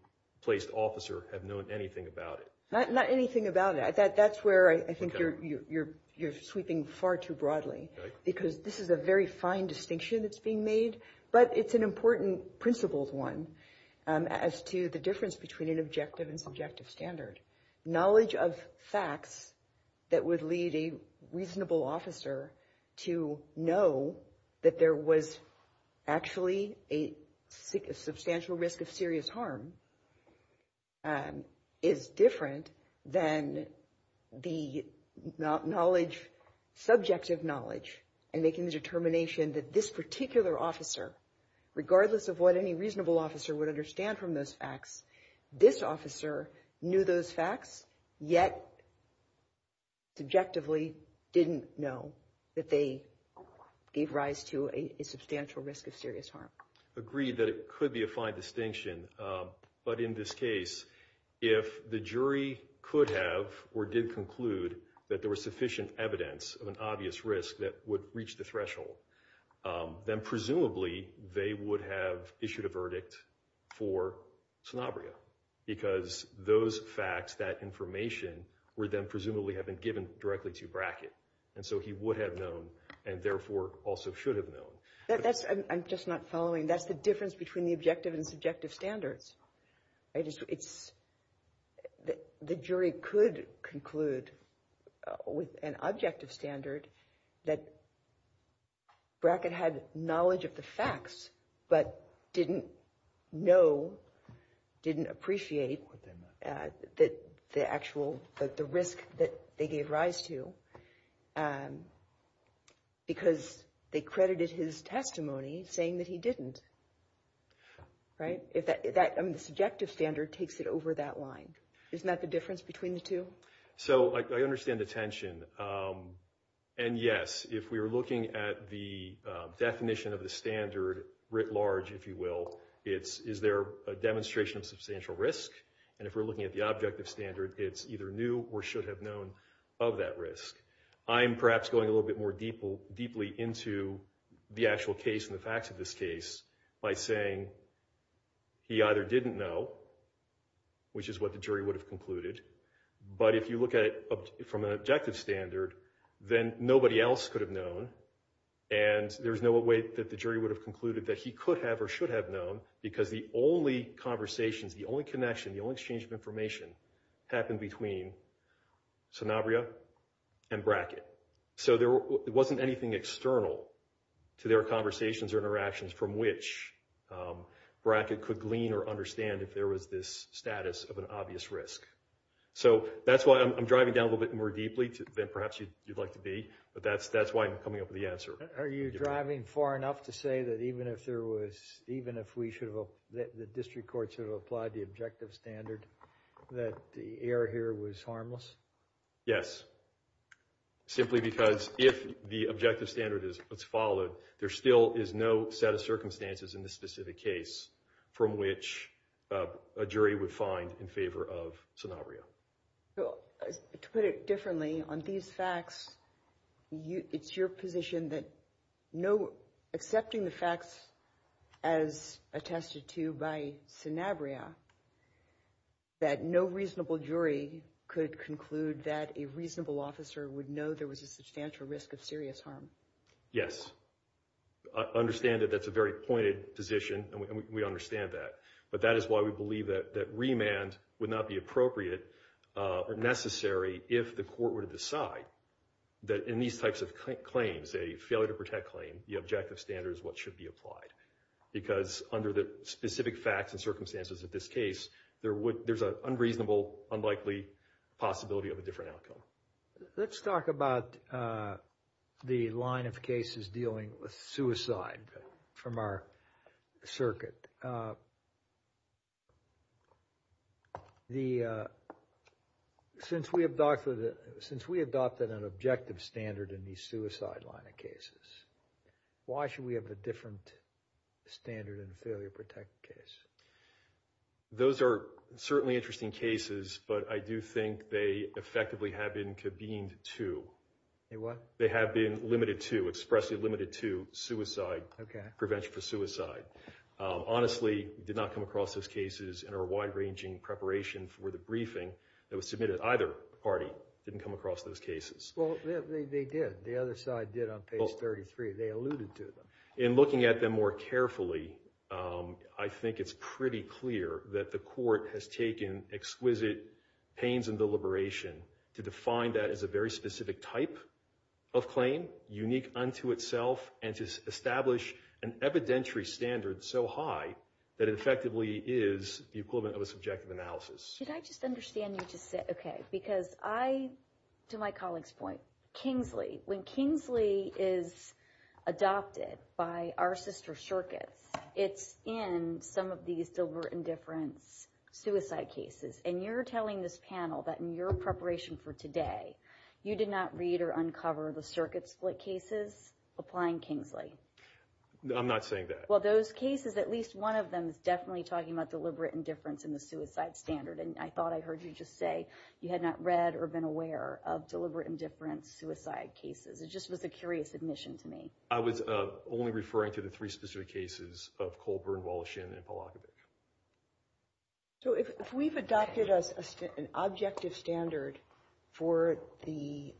placed officer have known anything about it? Not anything about it. That's where I think you're sweeping far too broadly because this is a very fine distinction that's being made, but it's an important principled one as to the difference between an objective and subjective standard. Knowledge of facts that would lead a reasonable officer to know that there was actually a substantial risk of serious harm is different than the subjective knowledge and making the determination that this particular officer, regardless of what any reasonable officer would understand from those facts, this officer knew those facts, yet subjectively didn't know that they gave rise to a substantial risk of serious harm. Agreed that it could be a fine distinction, but in this case, if the jury could have or did conclude that there was sufficient evidence of an obvious risk that would reach the threshold, then presumably they would have issued a verdict for Sanabria because those facts, that information, would then presumably have been given directly to Brackett. And so he would have known and therefore also should have known. I'm just not following. That's the difference between the objective and subjective standards. The jury could conclude with an objective standard that Brackett had knowledge of the facts, but didn't know, didn't appreciate the actual risk that they gave rise to because they credited his testimony saying that he didn't. The subjective standard takes it over that line. Isn't that the difference between the two? So I understand the tension. And yes, if we were looking at the definition of the standard writ large, if you will, is there a demonstration of substantial risk? And if we're looking at the objective standard, it's either new or should have known of that risk. I'm perhaps going a little bit more deeply into the actual case and the facts of this case by saying he either didn't know, which is what the jury would have concluded, but if you look at it from an objective standard, then nobody else could have known and there's no way that the jury would have concluded that he could have or should have known because the only conversations, the only connection, the only exchange of information happened between Sanabria and Brackett. So there wasn't anything external to their conversations or interactions from which Brackett could glean or understand if there was this status of an obvious risk. So that's why I'm driving down a little bit more deeply than perhaps you'd like to be, but that's why I'm coming up with the answer. Are you driving far enough to say that even if there was, even if the district court should have applied the objective standard, that the error here was harmless? Yes. Simply because if the objective standard is followed, there still is no set of circumstances in this specific case from which a jury would find in favor of Sanabria. To put it differently, on these facts, it's your position that no, accepting the facts as attested to by Sanabria, that no reasonable jury could conclude that a reasonable officer would know there was a substantial risk of serious harm. Yes. I understand that that's a very pointed position, and we understand that. But that is why we believe that remand would not be appropriate or necessary if the court were to decide that in these types of claims, a failure to protect claim, the objective standard is what should be applied. Because under the specific facts and circumstances of this case, there's an unreasonable, unlikely possibility of a different outcome. Let's talk about the line of cases dealing with suicide from our circuit. Since we adopted an objective standard in the suicide line of cases, why should we have a different standard in the failure to protect case? Those are certainly interesting cases, but I do think they effectively have been convened to. They what? They have been limited to, expressly limited to suicide, prevention for suicide. Honestly, did not come across those cases in our wide-ranging preparation for the briefing that was submitted. Either party didn't come across those cases. Well, they did. The other side did on page 33. They alluded to them. In looking at them more carefully, I think it's pretty clear that the court has taken exquisite pains and deliberation to define that as a very specific type of claim, unique unto itself, and to establish an evidentiary standard so high that it effectively is the equivalent of a subjective analysis. Should I just understand you just said? Okay, because I, to my colleague's point, Kingsley, when Kingsley is adopted by our sister circuits, it's in some of these deliberate indifference suicide cases. And you're telling this panel that in your preparation for today, you did not read or uncover the circuit split cases applying Kingsley? I'm not saying that. Well, those cases, at least one of them is definitely talking about deliberate indifference in the suicide standard. And I thought I heard you just say you had not read or been aware of deliberate indifference suicide cases. It just was a curious admission to me. I was only referring to the three specific cases of Colburn, Wallachian, and Polakovich. So if we've adopted an objective standard for the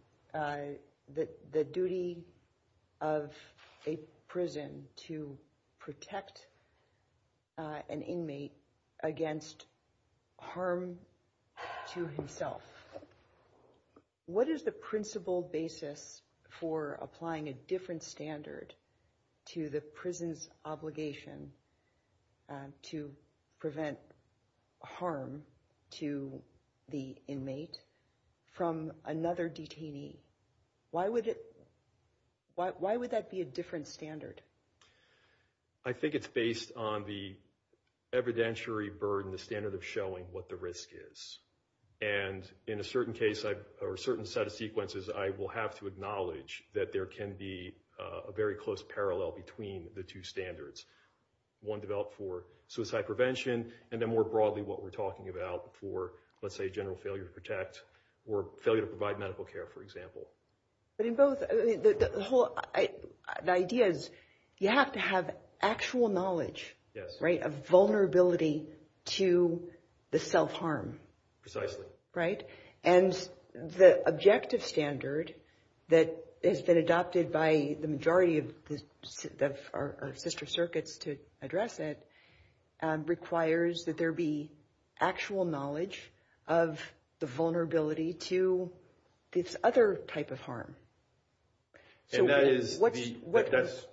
duty of a prison to protect an inmate against harm to himself, what is the principle basis for applying a different standard to the prison's obligation to prevent harm to the inmate from another detainee? Why would that be a different standard? I think it's based on the evidentiary burden, the standard of showing what the risk is. And in a certain set of sequences, I will have to acknowledge that there can be a very close parallel between the two standards, one developed for suicide prevention, and then more broadly what we're talking about for, let's say, general failure to protect or failure to provide medical care, for example. But in both, the idea is you have to have actual knowledge of vulnerability to the self-harm. Precisely. Right? And the objective standard that has been adopted by the majority of our sister circuits to address it requires that there be actual knowledge of the vulnerability to this other type of harm. So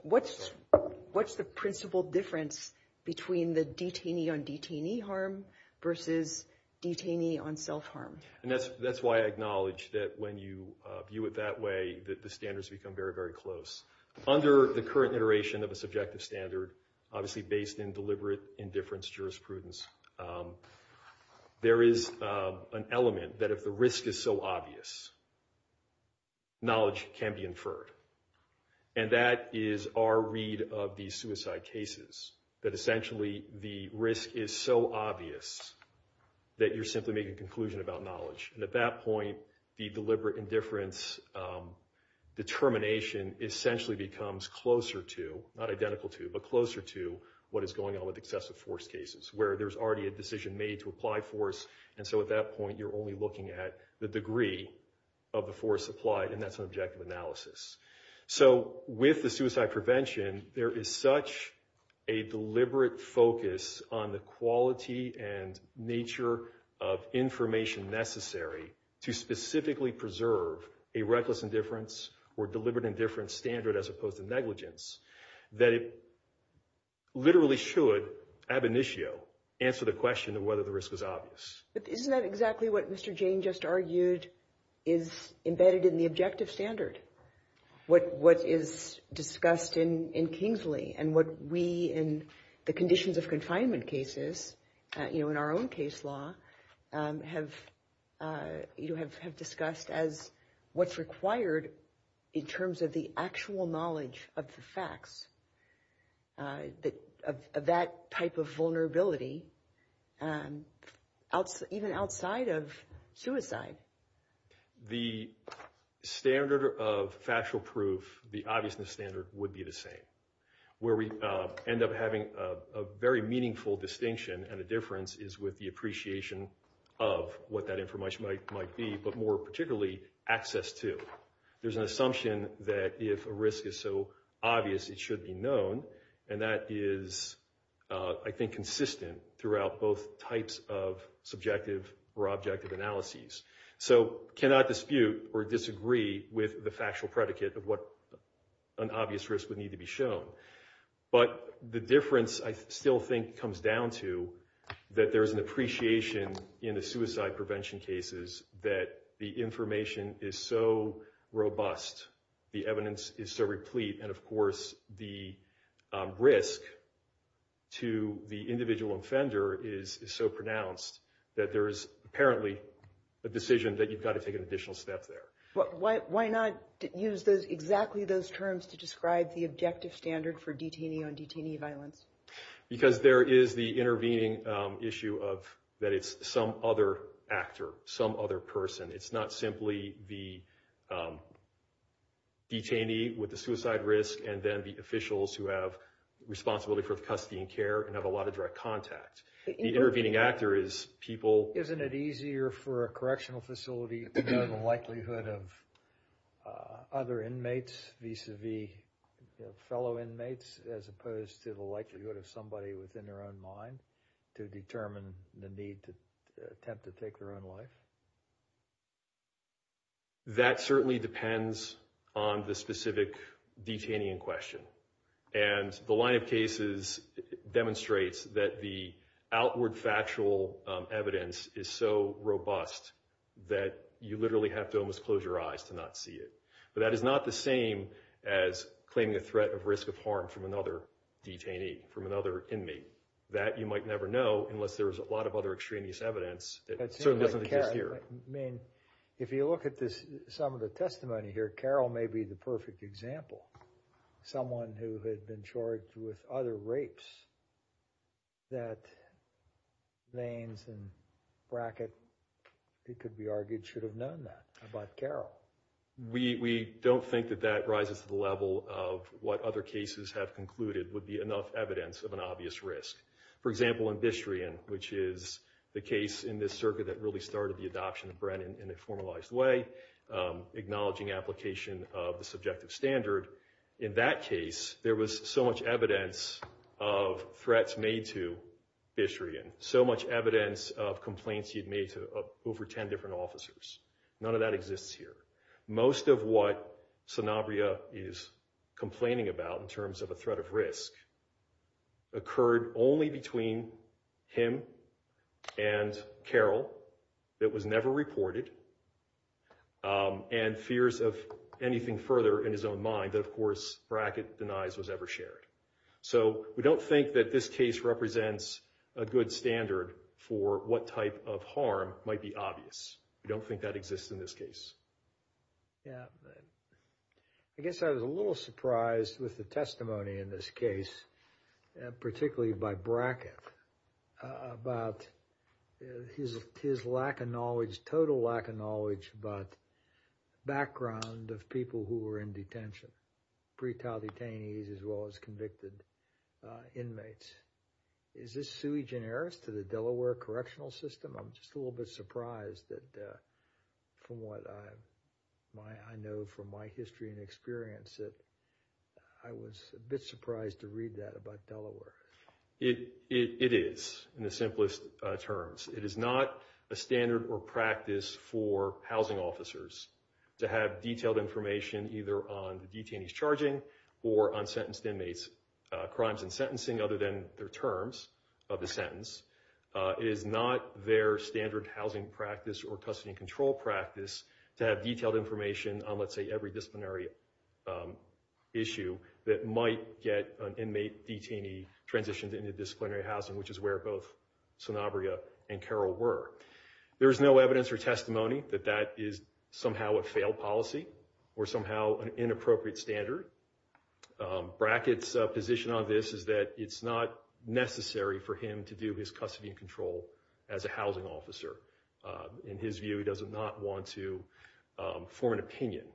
what's the principle difference between the detainee on detainee harm versus detainee on self-harm? And that's why I acknowledge that when you view it that way, that the standards become very, very close. Under the current iteration of a subjective standard, obviously based in deliberate indifference jurisprudence, there is an element that if the risk is so obvious, knowledge can be inferred. And that is our read of the suicide cases, that essentially the risk is so obvious that you're simply making a conclusion about knowledge. And at that point, the deliberate indifference determination essentially becomes closer to, not identical to, but closer to what is going on with excessive force cases, where there's already a decision made to apply force, and so at that point you're only looking at the degree of the force applied, and that's an objective analysis. So with the suicide prevention, there is such a deliberate focus on the quality and nature of information necessary to specifically preserve a reckless indifference or deliberate indifference standard as opposed to negligence, that it literally should ab initio answer the question of whether the risk is obvious. But isn't that exactly what Mr. Jane just argued is embedded in the objective standard? What is discussed in Kingsley and what we, in the conditions of confinement cases, you know, in our own case law have discussed as what's required in terms of the actual knowledge of the facts of that type of vulnerability, even outside of suicide. The standard of factual proof, the obviousness standard, would be the same. Where we end up having a very meaningful distinction and a difference is with the appreciation of what that information might be, but more particularly access to. There's an assumption that if a risk is so obvious it should be known, and that is I think consistent throughout both types of subjective or objective analyses. So cannot dispute or disagree with the factual predicate of what an obvious risk would need to be shown. But the difference I still think comes down to that there is an appreciation in the suicide prevention cases that the information is so robust, the evidence is so replete, and of course the risk to the individual offender is so pronounced that there is apparently a decision that you've got to take an additional step there. Why not use exactly those terms to describe the objective standard for detainee on detainee violence? Because there is the intervening issue that it's some other actor, some other person. It's not simply the detainee with the suicide risk and then the officials who have responsibility for the custody and care and have a lot of direct contact. The intervening actor is people. Isn't it easier for a correctional facility to know the likelihood of other inmates vis-a-vis fellow inmates as opposed to the likelihood of somebody within their own mind to determine the need to attempt to take their own life? That certainly depends on the specific detainee in question. The line of cases demonstrates that the outward factual evidence is so robust that you literally have to almost close your eyes to not see it. But that is not the same as claiming a threat of risk of harm from another detainee, from another inmate. That you might never know unless there is a lot of other extraneous evidence. It certainly doesn't exist here. If you look at some of the testimony here, Carol may be the perfect example. Someone who had been charged with other rapes. That Lanes and Brackett, it could be argued, should have known that about Carol. We don't think that that rises to the level of what other cases have concluded would be enough evidence of an obvious risk. For example, in Bistrian, which is the case in this circuit that really started the adoption of Brennan in a formalized way, acknowledging application of the effective standard, in that case there was so much evidence of threats made to Bistrian. So much evidence of complaints he had made to over ten different officers. None of that exists here. Most of what Sanabria is complaining about in terms of a threat of risk occurred only between him and Carol. It was never reported. And fears of anything further in his own mind that, of course, Brackett denies was ever shared. So we don't think that this case represents a good standard for what type of harm might be obvious. We don't think that exists in this case. I guess I was a little surprised with the testimony in this case, particularly by Brackett, about his lack of knowledge, total lack of knowledge about the background of people who were in detention, pretrial detainees as well as convicted inmates. Is this sui generis to the Delaware correctional system? I'm just a little bit surprised that from what I know from my history and It is, in the simplest terms. It is not a standard or practice for housing officers to have detailed information either on the detainee's charging or on sentenced inmates' crimes and sentencing other than their terms of the sentence. It is not their standard housing practice or custody and control practice to have detailed information on, let's say, every disciplinary issue that might get an inmate detainee transitioned into disciplinary housing, which is where both Sonabria and Carroll were. There is no evidence or testimony that that is somehow a failed policy or somehow an inappropriate standard. Brackett's position on this is that it's not necessary for him to do his custody and control as a housing officer. In his view, he does not want to form an opinion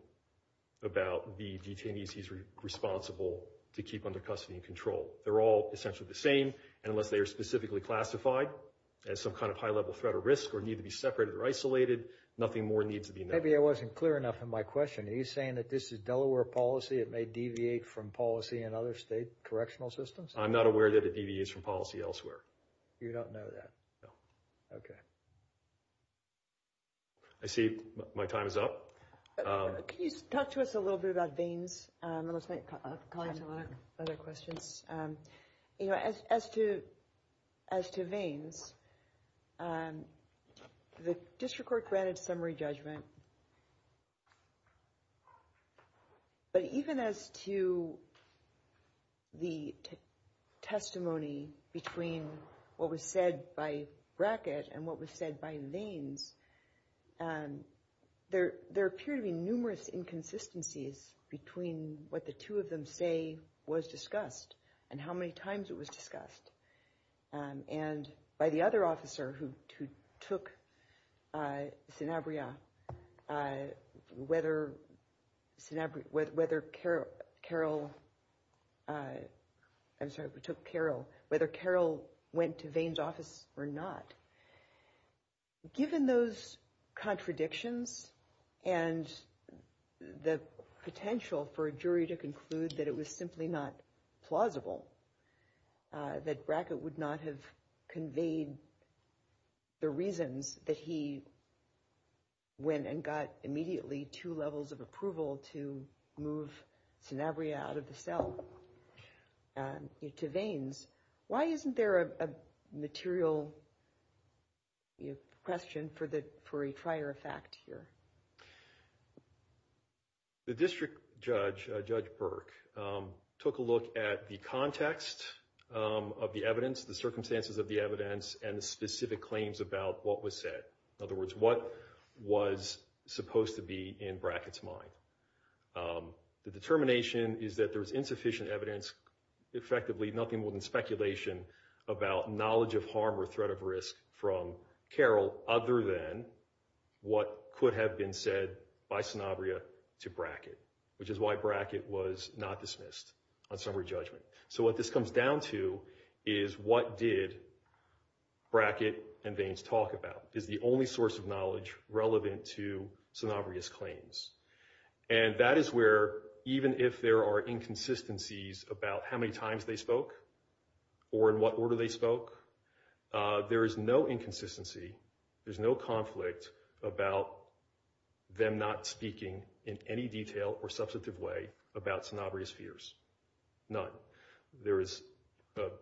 about the detainees he's responsible to keep under custody and control. They're all essentially the same, and unless they are specifically classified as some kind of high-level threat or risk or need to be separated or isolated, nothing more needs to be known. Maybe I wasn't clear enough in my question. Are you saying that this is Delaware policy? It may deviate from policy in other state correctional systems? I'm not aware that it deviates from policy elsewhere. You don't know that? No. Okay. I see my time is up. Can you talk to us a little bit about Vains? I'm going to call into other questions. As to Vains, the district court granted summary judgment, but even as to the testimony between what was said by Brackett and what was said by Vains, there appear to be numerous inconsistencies between what the two of them say was discussed and how many times it was discussed. And by the other officer who took Sinabria, whether Carol went to Vains' office or not, given those contradictions and the potential for a jury to conclude that it was simply not plausible, that Brackett would not have conveyed the reasons that he went and got immediately two levels of approval to move Sinabria out of the cell to Vains, why isn't there a material question for a prior fact here? The district judge, Judge Burke, took a look at the context of the evidence, the circumstances of the evidence, and the specific claims about what was said. In other words, what was supposed to be in Brackett's mind. The determination is that there is insufficient evidence. Effectively, nothing more than speculation about knowledge of harm or threat of risk from Carol other than what could have been said by Sinabria to Brackett, which is why Brackett was not dismissed on summary judgment. So what this comes down to is what did Brackett and Vains talk about? Is the only source of knowledge relevant to Sinabria's claims? And that is where, even if there are inconsistencies about how many times they spoke or in what order they spoke, there is no inconsistency, there's no conflict about them not speaking in any detail or substantive way about Sinabria's fears. None.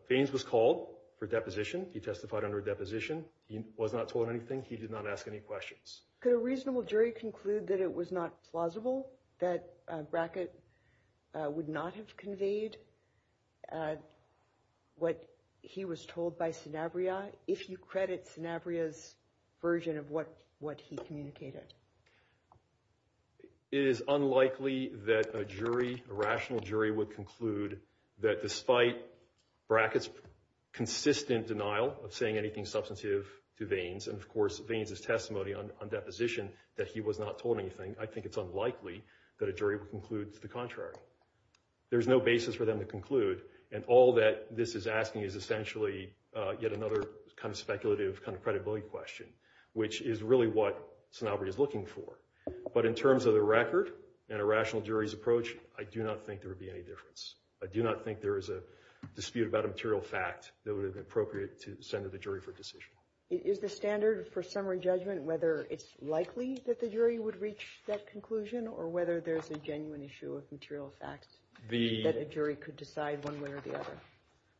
Vains was called for deposition. He testified under a deposition. He was not told anything. He did not ask any questions. Could a reasonable jury conclude that it was not plausible that Brackett would not have conveyed what he was told by Sinabria if you credit Sinabria's version of what he communicated? It is unlikely that a jury, a rational jury, would conclude that despite Brackett's consistent denial of saying anything substantive to Vains and, of course, Vains' testimony on deposition that he was not told anything, I think it's unlikely that a jury would conclude the contrary. There's no basis for them to conclude. And all that this is asking is essentially yet another kind of speculative kind of credibility question, which is really what Sinabria is looking for. But in terms of the record and a rational jury's approach, I do not think there would be any difference. I do not think there is a dispute about a material fact that would have been appropriate to send to the jury for a decision. Is the standard for summary judgment whether it's likely that the jury would reach that conclusion or whether there's a genuine issue of material facts that a jury could decide one way or the other?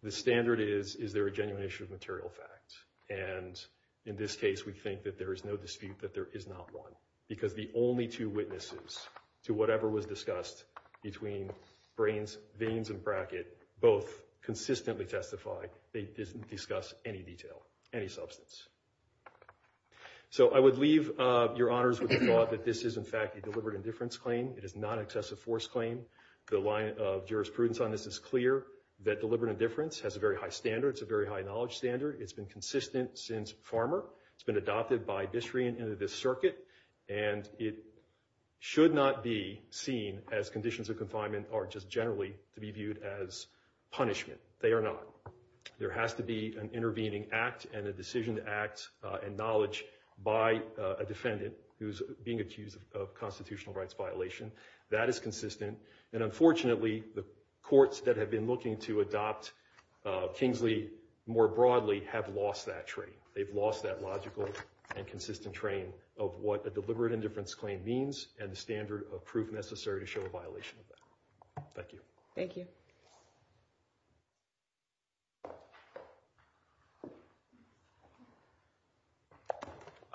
The standard is, is there a genuine issue of material facts? And in this case, we think that there is no dispute that there is not one because the only two witnesses to whatever was discussed between Vains and Brackett both consistently testify they didn't discuss any detail, any substance. So I would leave your honors with the thought that this is, in fact, a deliberate indifference claim. It is not an excessive force claim. The line of jurisprudence on this is clear that deliberate indifference has a very high standard. It's a very high knowledge standard. It's been consistent since Farmer. It's been adopted by Bishre and into this circuit. And it should not be seen as conditions of confinement or just generally to be viewed as punishment. They are not. There has to be an intervening act and a decision to act and knowledge by a defendant who's being accused of constitutional rights violation. That is consistent. And unfortunately, the courts that have been looking to adopt Kingsley more broadly have lost that train. They've lost that logical and consistent train of what a deliberate indifference claim means and the standard of proof necessary to show a violation of that. Thank you. Thank you.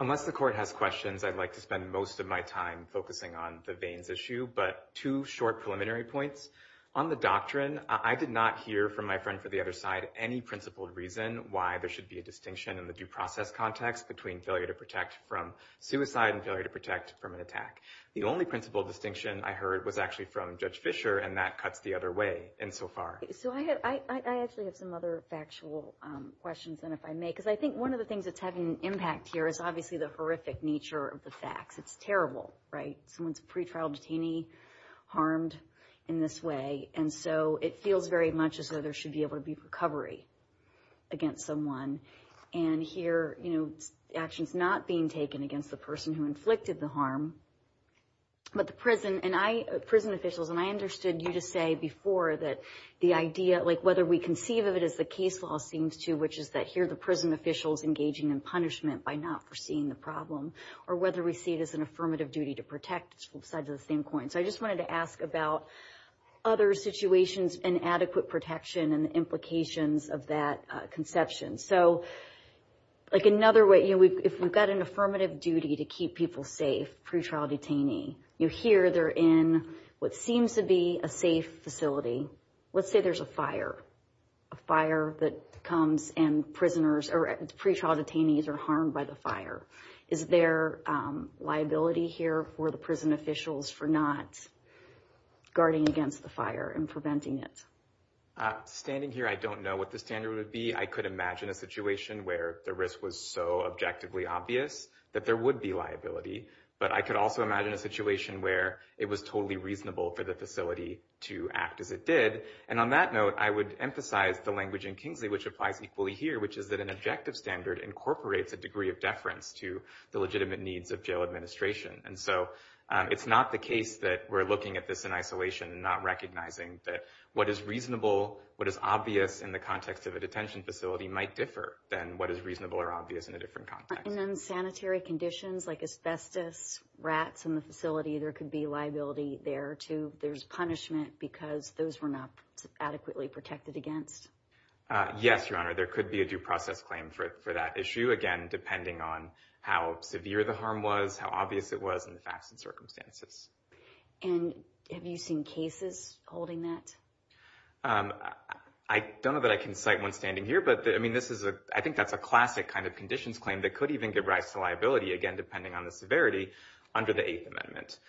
Unless the court has questions, I'd like to spend most of my time focusing on the veins issue, but two short preliminary points on the doctrine. I did not hear from my friend for the other side any principled reason why there should be a distinction in the due process context between failure to protect from suicide and failure to protect from an attack. The only principled distinction I heard was actually from Judge Fisher, and that cuts the other way insofar. So I actually have some other factual questions, and if I may, because I think one of the things that's having an impact here is obviously the horrific nature of the facts. It's terrible, right? Someone's a pretrial detainee harmed in this way. And so it feels very much as though there should be able to be recovery against someone. And here, you know, actions not being taken against the person who inflicted the harm. But the prison, and I, prison officials, and I understood you to say before that the idea, like, whether we conceive of it as the case law seems to, which is that here the prison officials engaging in punishment by not foreseeing the problem. Or whether we see it as an affirmative duty to protect sides of the same coin. So I just wanted to ask about other situations and adequate protection and implications of that conception. So, like, another way, you know, if we've got an affirmative duty to keep people safe, pretrial detainee, you hear they're in what seems to be a safe facility. Let's say there's a fire. A fire that comes and prisoners, or pretrial detainees are harmed by the fire. Is there liability here for the prison officials for not guarding against the fire and preventing it? Standing here, I don't know what the standard would be. I could imagine a situation where the risk was so objectively obvious that there would be liability. But I could also imagine a situation where it was totally reasonable for the facility to act as it did. And on that note, I would emphasize the language in Kingsley, which applies equally here, which is that an objective standard incorporates a degree of deference to the legitimate needs of jail administration. And so it's not the case that we're looking at this in isolation and not recognizing that what is reasonable, what is obvious in the context of a detention facility might differ than what is reasonable or obvious in a different context. And then sanitary conditions like asbestos, rats in the facility, there could be liability there too. There's punishment because those were not adequately protected against. Yes, Your Honor, there could be a due process claim for that issue. Again, depending on how severe the harm was, how obvious it was in the facts and circumstances. And have you seen cases holding that? I don't know that I can cite one standing here, but I mean, this is a I think that's a classic kind of conditions claim that could even give rise to liability, again, depending on the severity under the Eighth Amendment.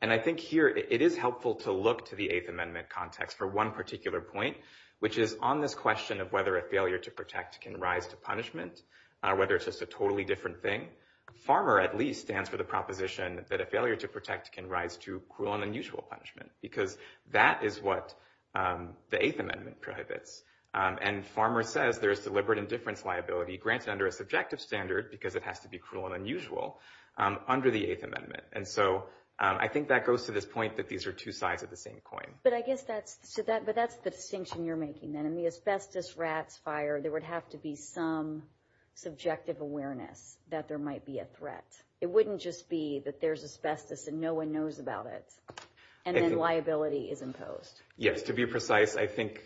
And I think here it is helpful to look to the Eighth Amendment context for one particular point, which is on this question of whether a failure to protect can rise to punishment, whether it's just a totally different thing. Farmer, at least, stands for the proposition that a failure to protect can rise to cruel and unusual punishment because that is what the Eighth Amendment prohibits. And Farmer says there is deliberate indifference liability granted under a subjective standard because it has to be cruel and unusual under the Eighth Amendment. And so I think that goes to this point that these are two sides of the same coin. But I guess that's so that but that's the distinction you're making that in the asbestos rats fire, there would have to be some subjective awareness that there might be a threat. It wouldn't just be that there's asbestos and no one knows about it. And then liability is imposed. Yes, to be precise. I think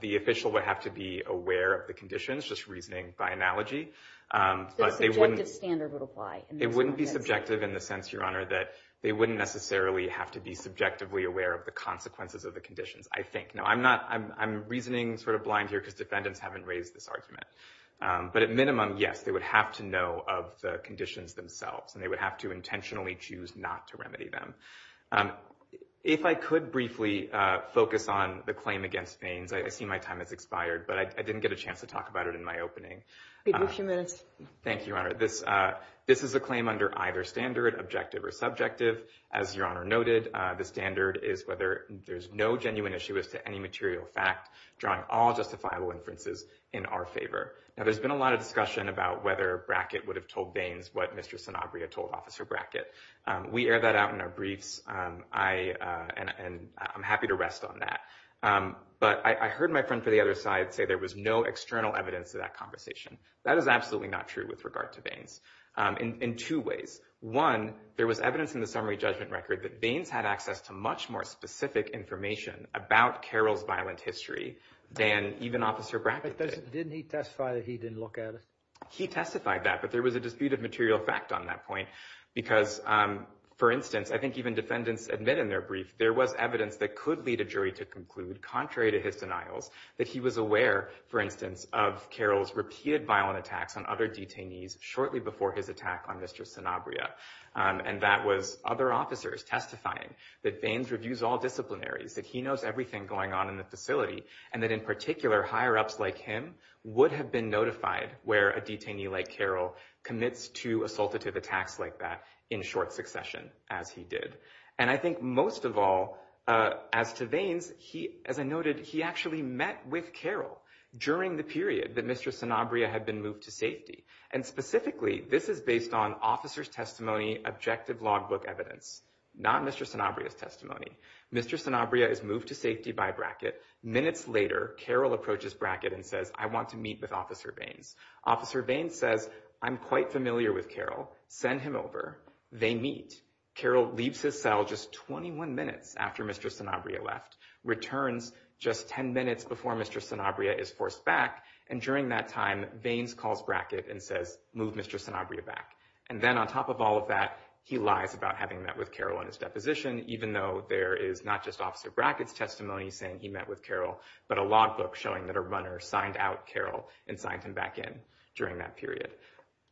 the official would have to be aware of the conditions, just reasoning by analogy. The subjective standard would apply. It wouldn't be subjective in the sense, Your Honor, that they wouldn't necessarily have to be subjectively aware of the consequences of the conditions, I think. No, I'm not. I'm reasoning sort of blind here because defendants haven't raised this argument. But at minimum, yes, they would have to know of the conditions themselves and they would have to intentionally choose not to remedy them. If I could briefly focus on the claim against Faines, I see my time has expired, but I didn't get a chance to talk about it in my opening. Thank you, Your Honor. This is a claim under either standard, objective or subjective. As Your Honor noted, the standard is whether there's no genuine issue as to any material fact drawing all justifiable inferences in our favor. Now, there's been a lot of discussion about whether Brackett would have told Baines what Mr. Sanabria told Officer Brackett. We air that out in our briefs. I and I'm happy to rest on that. But I heard my friend for the other side say there was no external evidence of that conversation. That is absolutely not true with regard to Baines in two ways. One, there was evidence in the summary judgment record that Baines had access to much more specific information about Carol's violent history than even Officer Brackett. But didn't he testify that he didn't look at it? He testified that. But there was a disputed material fact on that point, because, for instance, I think even defendants admit in their brief, there was evidence that could lead a jury to conclude, contrary to his denials, that he was aware, for instance, of Carol's repeated violent attacks on other detainees shortly before his attack on Mr. Sanabria. And that was other officers testifying that Baines reviews all disciplinaries, that he knows everything going on in the facility, and that in particular, higher ups like him would have been notified where a detainee like Carol commits to assultative attacks like that in short succession, as he did. And I think most of all, as to Baines, as I noted, he actually met with Carol during the period that Mr. Sanabria had been moved to safety. And specifically, this is based on officer's testimony, objective logbook evidence, not Mr. Sanabria's testimony. Mr. Sanabria is moved to safety by Brackett. Minutes later, Carol approaches Brackett and says, I want to meet with Officer Baines. Officer Baines says, I'm quite familiar with Carol. Send him over. They meet. Carol leaves his cell just 21 minutes after Mr. Sanabria left, returns just 10 minutes before Mr. Sanabria is forced back. And during that time, Baines calls Brackett and says, move Mr. Sanabria back. And then on top of all of that, he lies about having met with Carol in his deposition, even though there is not just Officer Brackett's testimony saying he met with Carol, but a logbook showing that a runner signed out Carol and signed him back in during that period.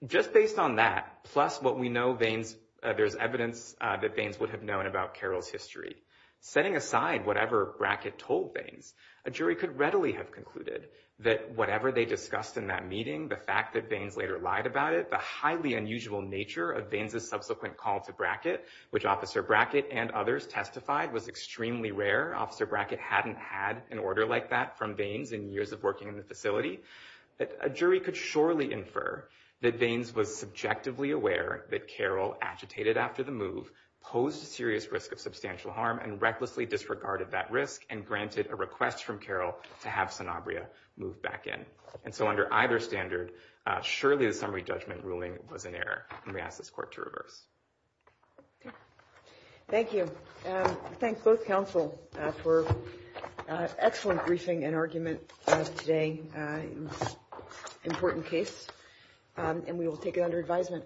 Just based on that, plus what we know, there's evidence that Baines would have known about Carol's history. Setting aside whatever Brackett told Baines, a jury could readily have concluded that whatever they discussed in that meeting, the fact that Baines later lied about it, the highly unusual nature of Baines's subsequent call to Brackett, which Officer Brackett and others testified was extremely rare. Officer Brackett hadn't had an order like that from Baines in years of working in the facility. A jury could surely infer that Baines was subjectively aware that Carol agitated after the move, posed a serious risk of substantial harm and recklessly disregarded that risk and granted a request from Carol to have Sanabria move back in. And so under either standard, surely the summary judgment ruling was an error. And we ask this court to reverse. Thank you. Thanks both counsel for an excellent briefing and argument today. It was an important case and we will take it under advisement.